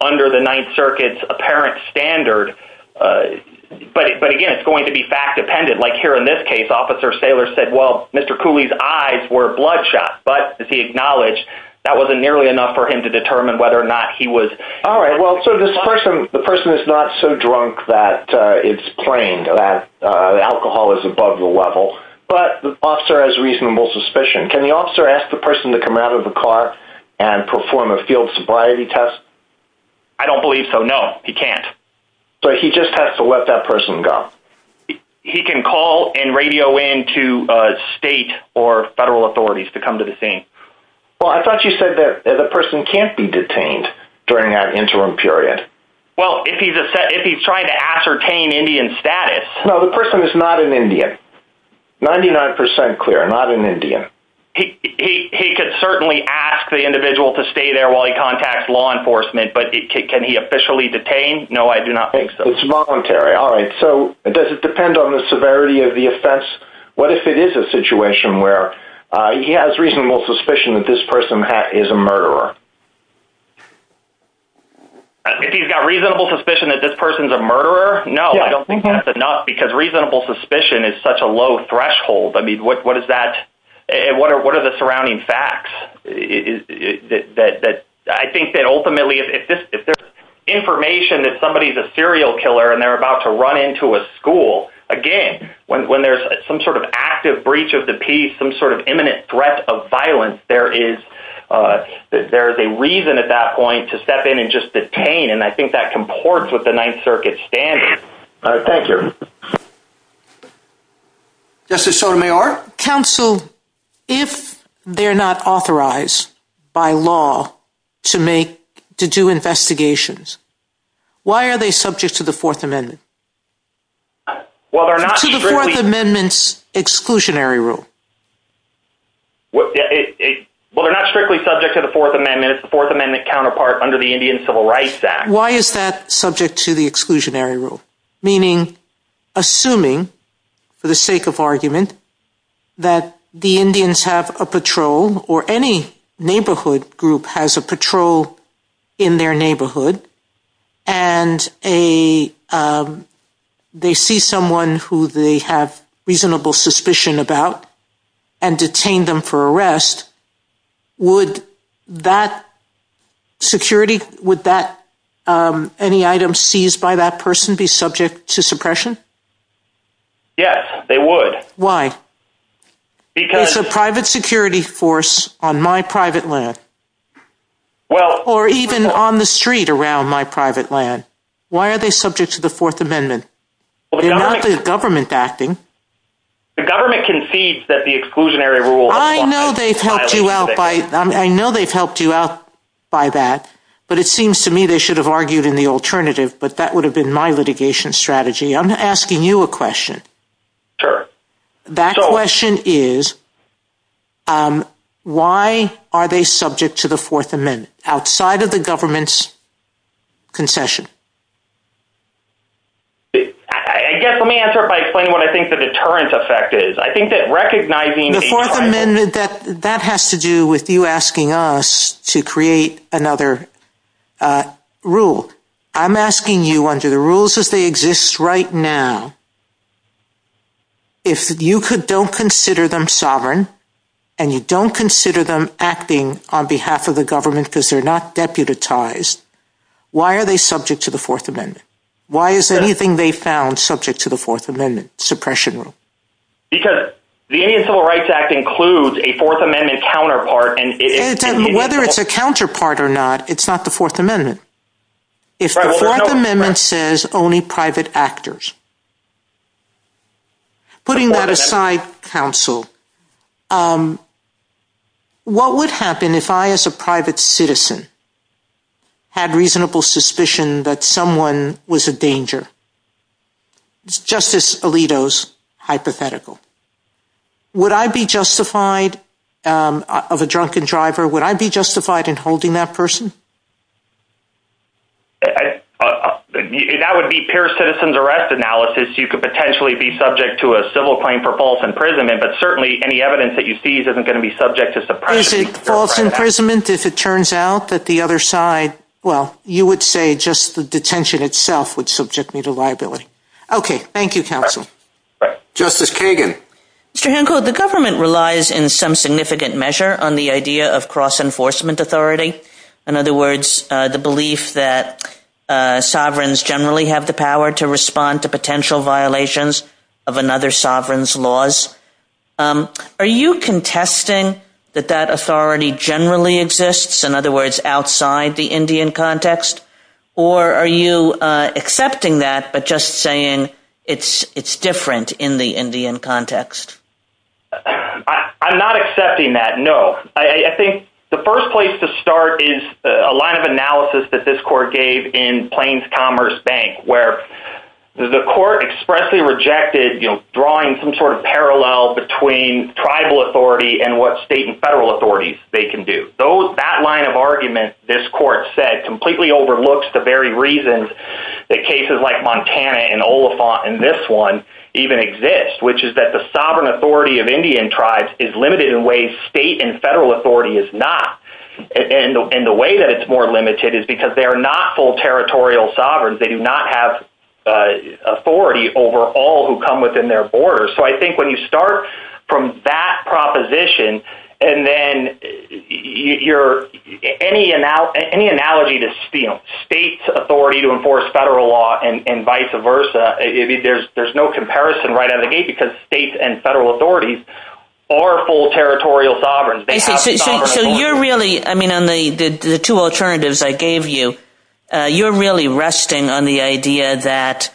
under the Ninth Circuit's apparent standard. But again, it's going to be fact-dependent. Like here in this case, Officer Saylor said, well, Mr. Cooley's eyes were bloodshot. But as he acknowledged, that wasn't nearly enough for him to determine whether or not he was. All right. Well, so this person, the person is not so drunk that it's plain that alcohol is above the level, but the officer has reasonable suspicion. Can the officer ask the person to come out of the car and perform a field sobriety test? I don't believe so. No, he can't. So he just has to let that person go. He can call and radio in to state or federal authorities to come to the scene. Well, I thought you said that the person can't be detained during that interim period. Well, if he's trying to ascertain Indian status. No, the person is not an Indian. 99% clear, not an Indian. He could certainly ask the individual to stay there while he contacts law enforcement, but can he officially detain? No, I do not think so. It's voluntary. All right. So does it depend on the severity of the offense? What if it is a situation where he has reasonable suspicion that this person is a murderer? If he's got reasonable suspicion that this person is a murderer? No, I don't think that's enough because reasonable suspicion is such a low threshold. I mean, what are the surrounding facts? I think that ultimately, if there's information that somebody is a serial killer and they're about to run into a school, again, when there's some sort of active breach of the peace, some sort of imminent threat of violence, there is a reason at that point to step in and just detain. And I think that comports with the Ninth Circuit standard. Thank you. Justice Sotomayor? Counsel, if they're not authorized by law to make, to do investigations, why are they subject to the Fourth Amendment? To the Fourth Amendment's exclusionary rule? Well, they're not strictly subject to the Fourth Amendment. It's the Fourth Amendment counterpart under the Indian Civil Rights Act. Why is that subject to the exclusionary rule? Meaning, assuming, for the sake of argument, that the Indians have a patrol, or any neighborhood group has a patrol in their neighborhood, and they see someone who they have reasonable suspicion about and detain them for arrest, would that security, would any item seized by that person be subject to suppression? Yes, they would. Why? It's a private security force on my private land. Or even on the street around my private land. Why are they subject to the Fourth Amendment? They're not the government acting. The government concedes that the exclusionary rule... I know they've helped you out by, I know they've helped you out by that. But it seems to me they should have argued in the alternative. But that would have been my litigation strategy. I'm asking you a question. Sure. That question is, why are they subject to the Fourth Amendment, outside of the government's deterrent effect? I think that recognizing... The Fourth Amendment, that has to do with you asking us to create another rule. I'm asking you, under the rules as they exist right now, if you don't consider them sovereign, and you don't consider them acting on behalf of the government because they're not deputized, why are they found subject to the Fourth Amendment suppression rule? Because the Indian Civil Rights Act includes a Fourth Amendment counterpart. Whether it's a counterpart or not, it's not the Fourth Amendment. If the Fourth Amendment says only private actors... Putting that aside, counsel, what would happen if I, as a private citizen, had reasonable suspicion that someone was a danger? Justice Alito's hypothetical. Would I be justified, of a drunken driver, would I be justified in holding that person? That would be peer citizen's arrest analysis. You could potentially be subject to a civil claim for false imprisonment, but certainly any evidence that you seize isn't going to be subject to suppression. False imprisonment, if it turns out that the other side... Well, you would say just the detention itself would subject me to liability. Okay. Thank you, counsel. Justice Kagan. Mr. Hancock, the government relies in some significant measure on the idea of cross enforcement authority. In other words, the belief that sovereigns generally have the power to respond to potential violations of another sovereign's laws. Are you contesting that that authority generally exists, in other words, outside the Indian context? Or are you accepting that, but just saying it's different in the Indian context? I'm not accepting that, no. I think the first place to start is a line of analysis that this court gave in Plains Commerce Bank, where the court expressly rejected drawing some parallel between tribal authority and what state and federal authorities they can do. That line of argument, this court said, completely overlooks the very reasons that cases like Montana and Oliphant and this one even exist, which is that the sovereign authority of Indian tribes is limited in ways state and federal authority is not. And the way that it's more limited is because they are not full territorial sovereigns. They do not have authority over all who come within their borders. So I think when you start from that proposition, and then any analogy to states' authority to enforce federal law and vice versa, there's no comparison right out of the gate because states and federal authorities are full territorial sovereigns. I mean, on the two alternatives I gave you, you're really resting on the idea that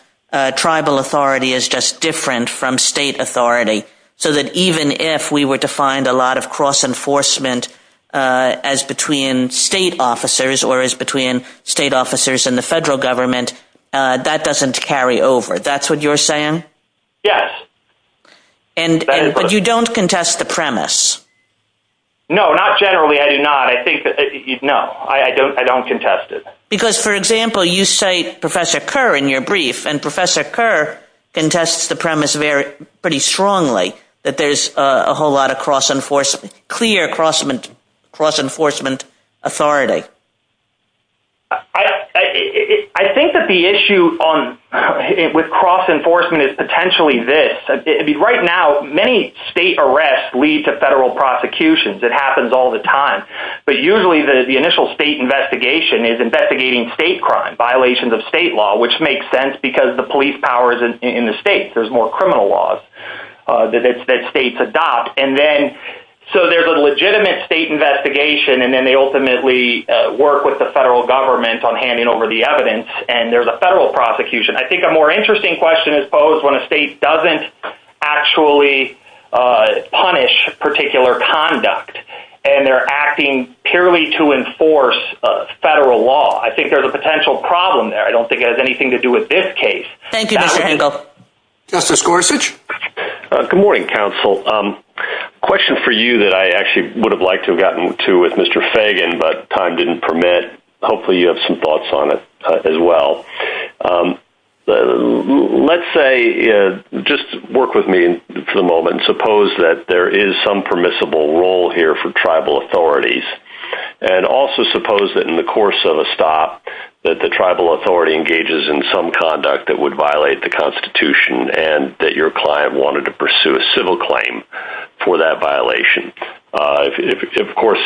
tribal authority is just different from state authority, so that even if we were to find a lot of cross-enforcement as between state officers or as between state officers and the federal government, that doesn't carry over. That's what you're saying? Yes. But you don't contest the premise? No, not generally, I do not. I think, no, I don't contest it. Because, for example, you say Professor Kerr in your brief, and Professor Kerr contests the premise pretty strongly that there's a whole lot of cross-enforcement, clear cross-enforcement authority. I think that the issue with cross-enforcement is potentially this. Right now, many state arrests lead to federal prosecutions. It happens all the time. But usually the initial state investigation is investigating state crime, violations of state law, which makes sense because the police power is in the state. There's more criminal laws that states adopt. So there's a legitimate state investigation, and then they ultimately work with the federal government on handing over the evidence, and there's a federal prosecution. I think a more interesting question is posed when a state doesn't actually punish particular conduct, and they're acting purely to enforce federal law. I think there's a potential problem there. I don't think it has anything to do with this case. Thank you, Mr. Hinkle. Justice Gorsuch? Good morning, counsel. Question for you that I actually would have liked to have gotten to with Mr. Fagan, but time didn't permit. Hopefully you have some thoughts on it as well. Let's say, just work with me for the moment. Suppose that there is some permissible role here for tribal authorities, and also suppose that in the course of a stop that the tribal authority engages in some conduct that would violate the Constitution and that your client wanted to pursue a civil claim for that violation. Of course,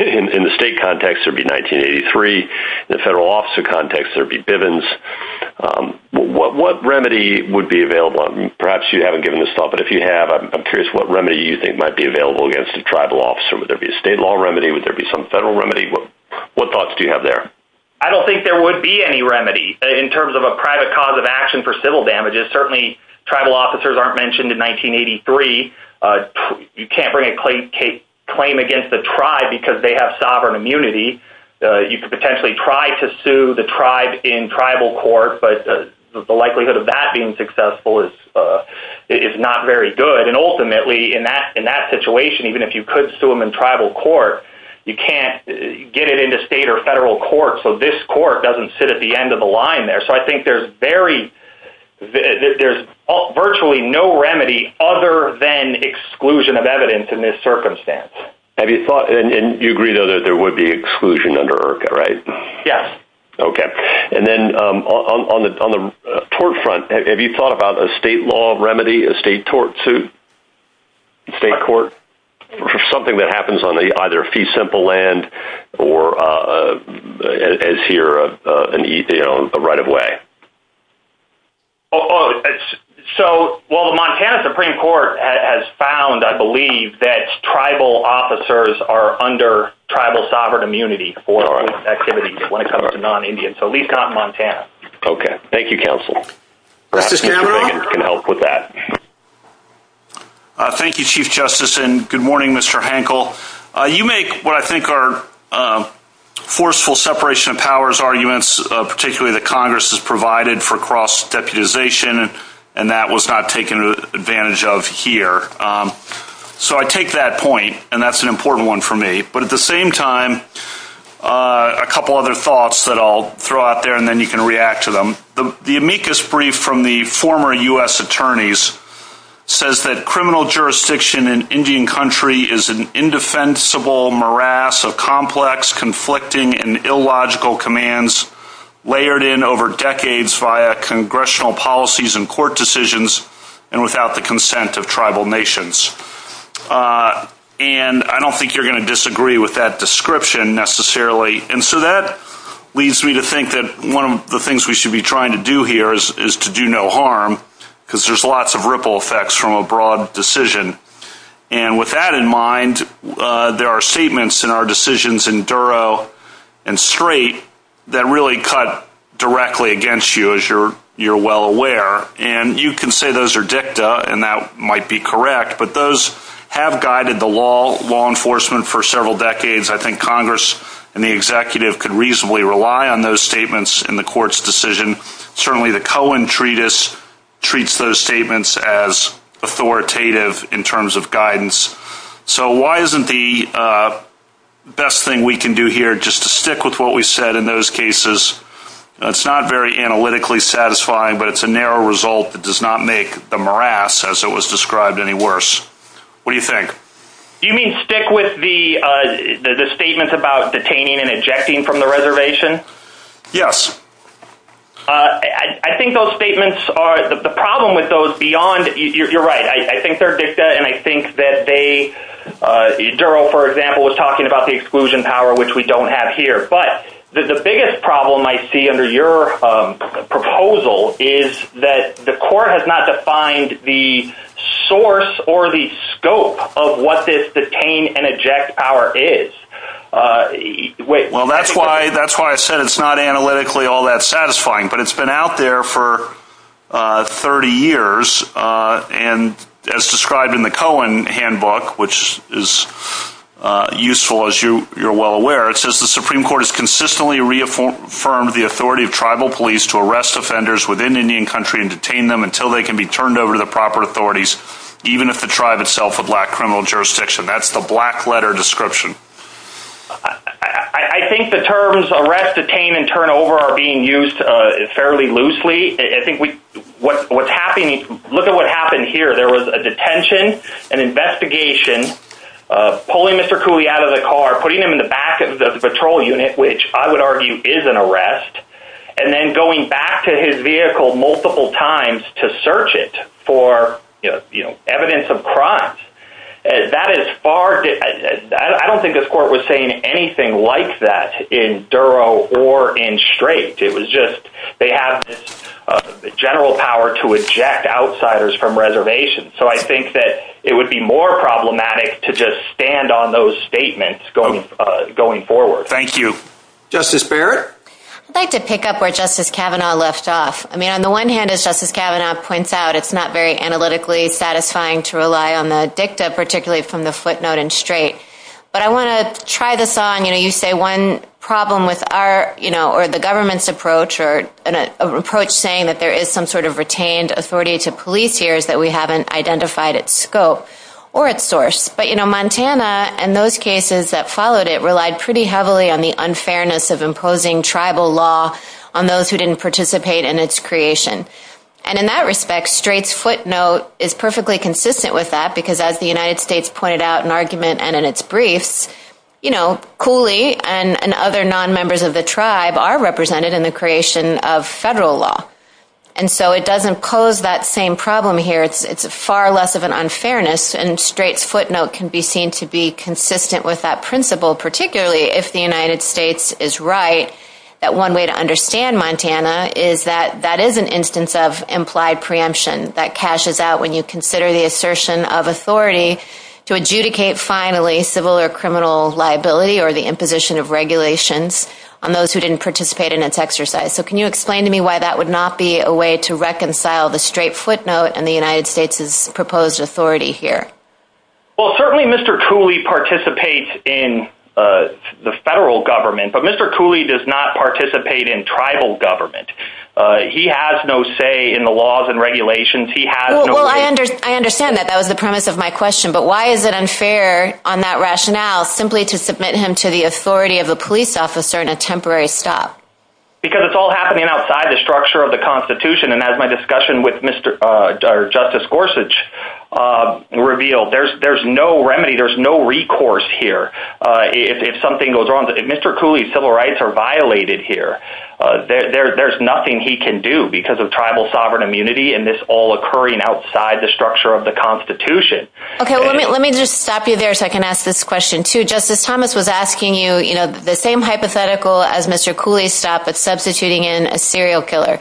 in the state context, it would be 1983. In the federal officer context, it would be Bivens. What remedy would be available? Perhaps you haven't given this thought, but if you have, I'm curious what remedy you think might be available against a tribal officer. Would there be a state law remedy? Would there be some federal remedy? What thoughts do you have there? I don't think there would be any remedy in terms of a private cause of action for civil damages. Certainly, tribal officers aren't mentioned in 1983. You can't bring a claim against the tribe because they have sovereign immunity. You could potentially try to sue the tribe in tribal court, but the likelihood of that being successful is not very good. Ultimately, in that situation, even if you could sue them in tribal court, you can't get it into state or federal court, so this court doesn't sit at the end of the line there. I think there's virtually no remedy other than exclusion of evidence in this under IRCA, right? Yes. And then on the tort front, have you thought about a state law remedy, a state tort suit, state court for something that happens on either fee simple land or is here a right of way? Well, the Montana Supreme Court has found, I believe, that tribal officers are under tribal sovereign immunity for activities when it comes to non-Indian, so at least not in Montana. Okay. Thank you, counsel. Thank you, Chief Justice, and good morning, Mr. Hankel. You make what I think are forceful separation of powers arguments, particularly that Congress has provided for cross-deputization, and that was not taken advantage of here. So I take that point, and that's an important one for me, but at the same time, a couple other thoughts that I'll throw out there, and then you can react to them. The amicus brief from the former U.S. attorneys says that criminal jurisdiction in Indian country is an indefensible morass of complex, conflicting, and illogical commands layered in over decades via congressional policies and court decisions and without the description necessarily, and so that leads me to think that one of the things we should be trying to do here is to do no harm, because there's lots of ripple effects from a broad decision, and with that in mind, there are statements in our decisions in Duro and Strait that really cut directly against you, as you're well aware, and you can say those are dicta, and that might be Congress and the executive could reasonably rely on those statements in the court's decision. Certainly the Cohen treatise treats those statements as authoritative in terms of guidance, so why isn't the best thing we can do here just to stick with what we said in those cases? It's not very analytically satisfying, but it's a narrow result that does not make the morass as it was described any worse. What do you think? You mean stick with the statements about detaining and ejecting from the reservation? Yes. I think those statements are, the problem with those beyond, you're right, I think they're dicta, and I think that they, Duro, for example, was talking about the exclusion power, which we don't have here, but the biggest problem I see under your proposal is that the court has not defined the source or the scope of what this detain and eject power is. Well, that's why I said it's not analytically all that satisfying, but it's been out there for 30 years, and as described in the Cohen handbook, which is useful as you're well aware, it says the Supreme Court has consistently reaffirmed the authority of tribal police to arrest offenders within Indian country and detain them until they can be turned over to the proper authorities, even if the tribe itself is a black criminal jurisdiction. That's the black letter description. I think the terms arrest, detain, and turn over are being used fairly loosely. I think what's happening, look at what happened here. There was a detention, an investigation, pulling Mr. Cooley out of the car, putting him in the back of the patrol unit, which I would argue is an arrest, and then going back to his vehicle multiple times to search it for evidence of crimes. I don't think this court was saying anything like that in Duro or in Straight. It was just they have this general power to eject outsiders from reservations, so I think that it would be more problematic to just stand on those statements going forward. Thank you. Justice Barrett? I'd like to pick up where Justice Kavanaugh left off. I mean, on the one hand, as Justice Kavanaugh points out, it's not very analytically satisfying to rely on the dicta, particularly from the footnote in Straight, but I want to try this on, you know, you say one problem with our, you know, or the government's approach or an approach saying that there is some sort of retained authority to police here is that we haven't identified its scope or its source, but you know, Montana and those cases that followed it relied pretty heavily on the unfairness of imposing tribal law on those who didn't participate in its creation, and in that respect, Straight's footnote is perfectly consistent with that because as the United States pointed out in argument and in its briefs, you know, Cooley and other non-members of the tribe are represented in the creation of federal law, and so it doesn't pose that same problem here. It's far less of unfairness, and Straight's footnote can be seen to be consistent with that principle, particularly if the United States is right, that one way to understand Montana is that that is an instance of implied preemption that cashes out when you consider the assertion of authority to adjudicate finally civil or criminal liability or the imposition of regulations on those who didn't participate in its exercise. So can you explain to me why that would not be a way to reconcile the Straight footnote and the United States's proposed authority here? Well, certainly Mr. Cooley participates in the federal government, but Mr. Cooley does not participate in tribal government. He has no say in the laws and regulations. He has no... Well, I understand that. That was the premise of my question, but why is it unfair on that rationale simply to submit him to the authority of a police officer in a temporary stop? Because it's all happening outside the structure of the Constitution, and as my discussion with Justice Gorsuch revealed, there's no remedy. There's no recourse here if something goes wrong. If Mr. Cooley's civil rights are violated here, there's nothing he can do because of tribal sovereign immunity and this all occurring outside the structure of the Constitution. Okay, let me just stop you there so I can ask this question too. Justice Thomas was asking you the same hypothetical as Mr. Cooley's stop, substituting in a serial killer.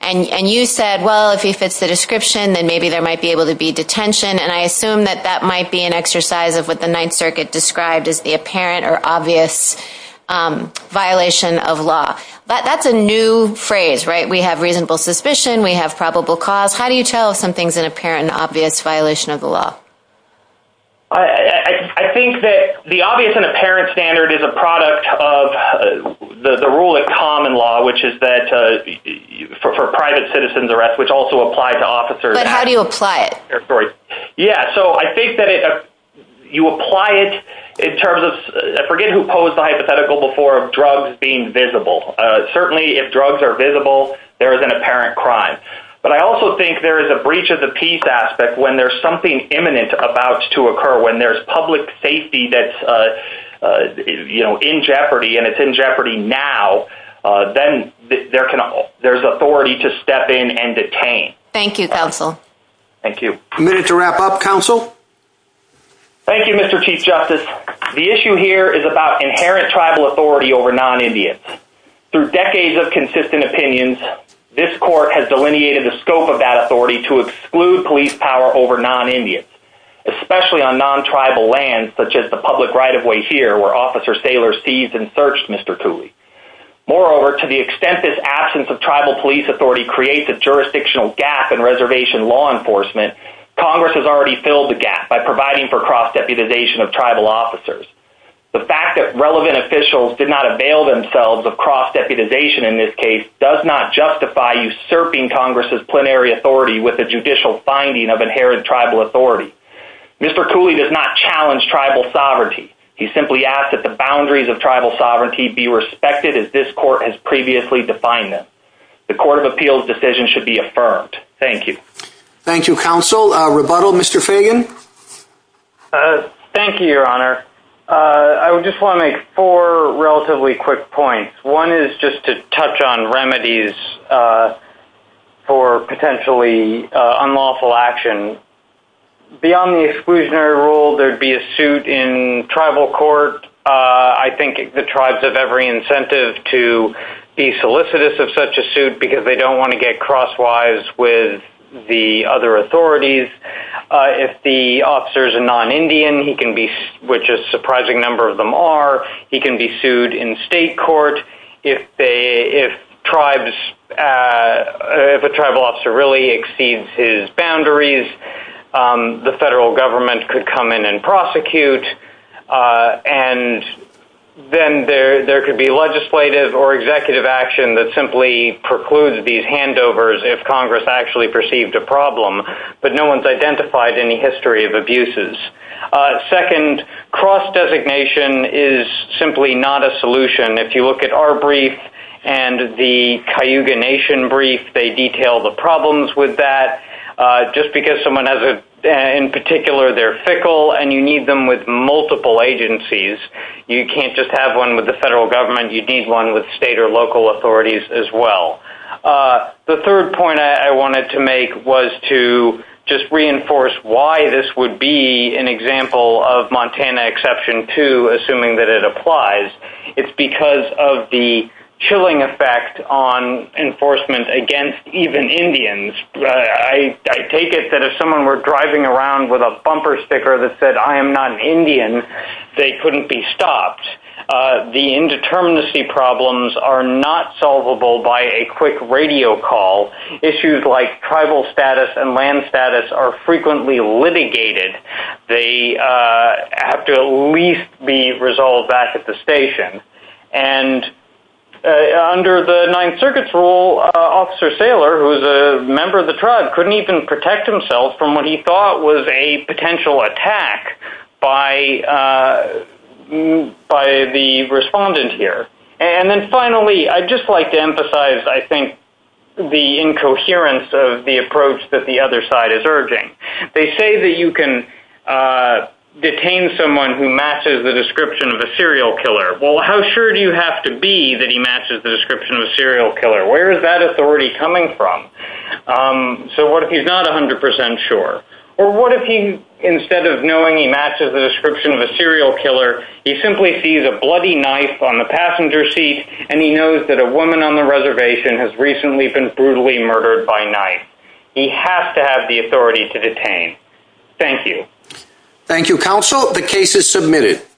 And you said, well, if he fits the description, then maybe there might be able to be detention. And I assume that that might be an exercise of what the Ninth Circuit described as the apparent or obvious violation of law. That's a new phrase, right? We have reasonable suspicion. We have probable cause. How do you tell if something's an apparent and obvious violation of the law? I think that the obvious and apparent standard is a product of the rule of common law, which is that for private citizens arrest, which also applies to officers. But how do you apply it? Yeah, so I think that you apply it in terms of, forget who posed the hypothetical before of drugs being visible. Certainly if drugs are visible, there is an apparent crime. But I also think there is a breach of the peace aspect when there's something imminent about to occur, when there's public safety that's in jeopardy, and it's in jeopardy now, then there's authority to step in and detain. Thank you, counsel. Thank you. A minute to wrap up, counsel. Thank you, Mr. Chief Justice. The issue here is about inherent tribal authority over non-Indians. Through decades of consistent opinions, this court has delineated the scope of that authority to exclude police power over non-Indians, especially on non-tribal lands, such as the public right-of-way here, where Officer Saylor seized and searched Mr. Cooley. Moreover, to the extent this absence of tribal police authority creates a jurisdictional gap in reservation law enforcement, Congress has already filled the gap by providing for cross-deputization of tribal officers. The fact that relevant officials did not avail themselves of cross-deputization in this case does not justify usurping Congress's plenary authority with a judicial finding of inherent tribal authority. Mr. Cooley does not challenge tribal sovereignty. He simply asks that the boundaries of tribal sovereignty be respected as this court has previously defined them. The Court of Appeals decision should be affirmed. Thank you. Thank you, counsel. A rebuttal, Mr. Fagan? Thank you, Your Honor. I just want to make four relatively quick points. One is just to highlight some of the possible remedies for potentially unlawful action. Beyond the exclusionary rule, there'd be a suit in tribal court. I think the tribes have every incentive to be solicitous of such a suit because they don't want to get crosswise with the other authorities. If the officer really exceeds his boundaries, the federal government could come in and prosecute, and then there could be legislative or executive action that simply precludes these handovers if Congress actually perceived a problem, but no one's identified any history of abuses. Second, cross-designation is simply not a solution. If you look at our brief and the Cayuga Nation brief, they detail the problems with that. Just because someone has a—in particular, they're fickle, and you need them with multiple agencies. You can't just have one with the federal government. You need one with state or local authorities as well. The third point I wanted to make was to just reinforce why this would be an example of Montana Exception 2, assuming that it applies. It's because of the chilling effect on enforcement against even Indians. I take it that if someone were driving around with a bumper sticker that said, I am not an Indian, they couldn't be stopped. The indeterminacy problems are not solvable by a quick radio call. Issues like tribal status and land status are frequently litigated. They have to at least be resolved back at the station. And under the Ninth Circuit's rule, Officer Saylor, who's a member of the tribe, couldn't even protect himself from what he thought was a potential attack by the respondent here. And then finally, I'd just like to emphasize, I think, the incoherence of the approach that the other side is urging. They say that you can detain someone who matches the description of a serial killer. Well, how sure do you have to be that he matches the description of a serial killer? Where is that authority coming from? So what if he's not 100% sure? Or what if he, instead of knowing he matches the description of a serial killer, he simply sees a bloody knife on the passenger seat, and he knows that a woman on the reservation has recently been brutally murdered by knife. He has to have the authority to detain. Thank you. Thank you, Counsel. The case is submitted.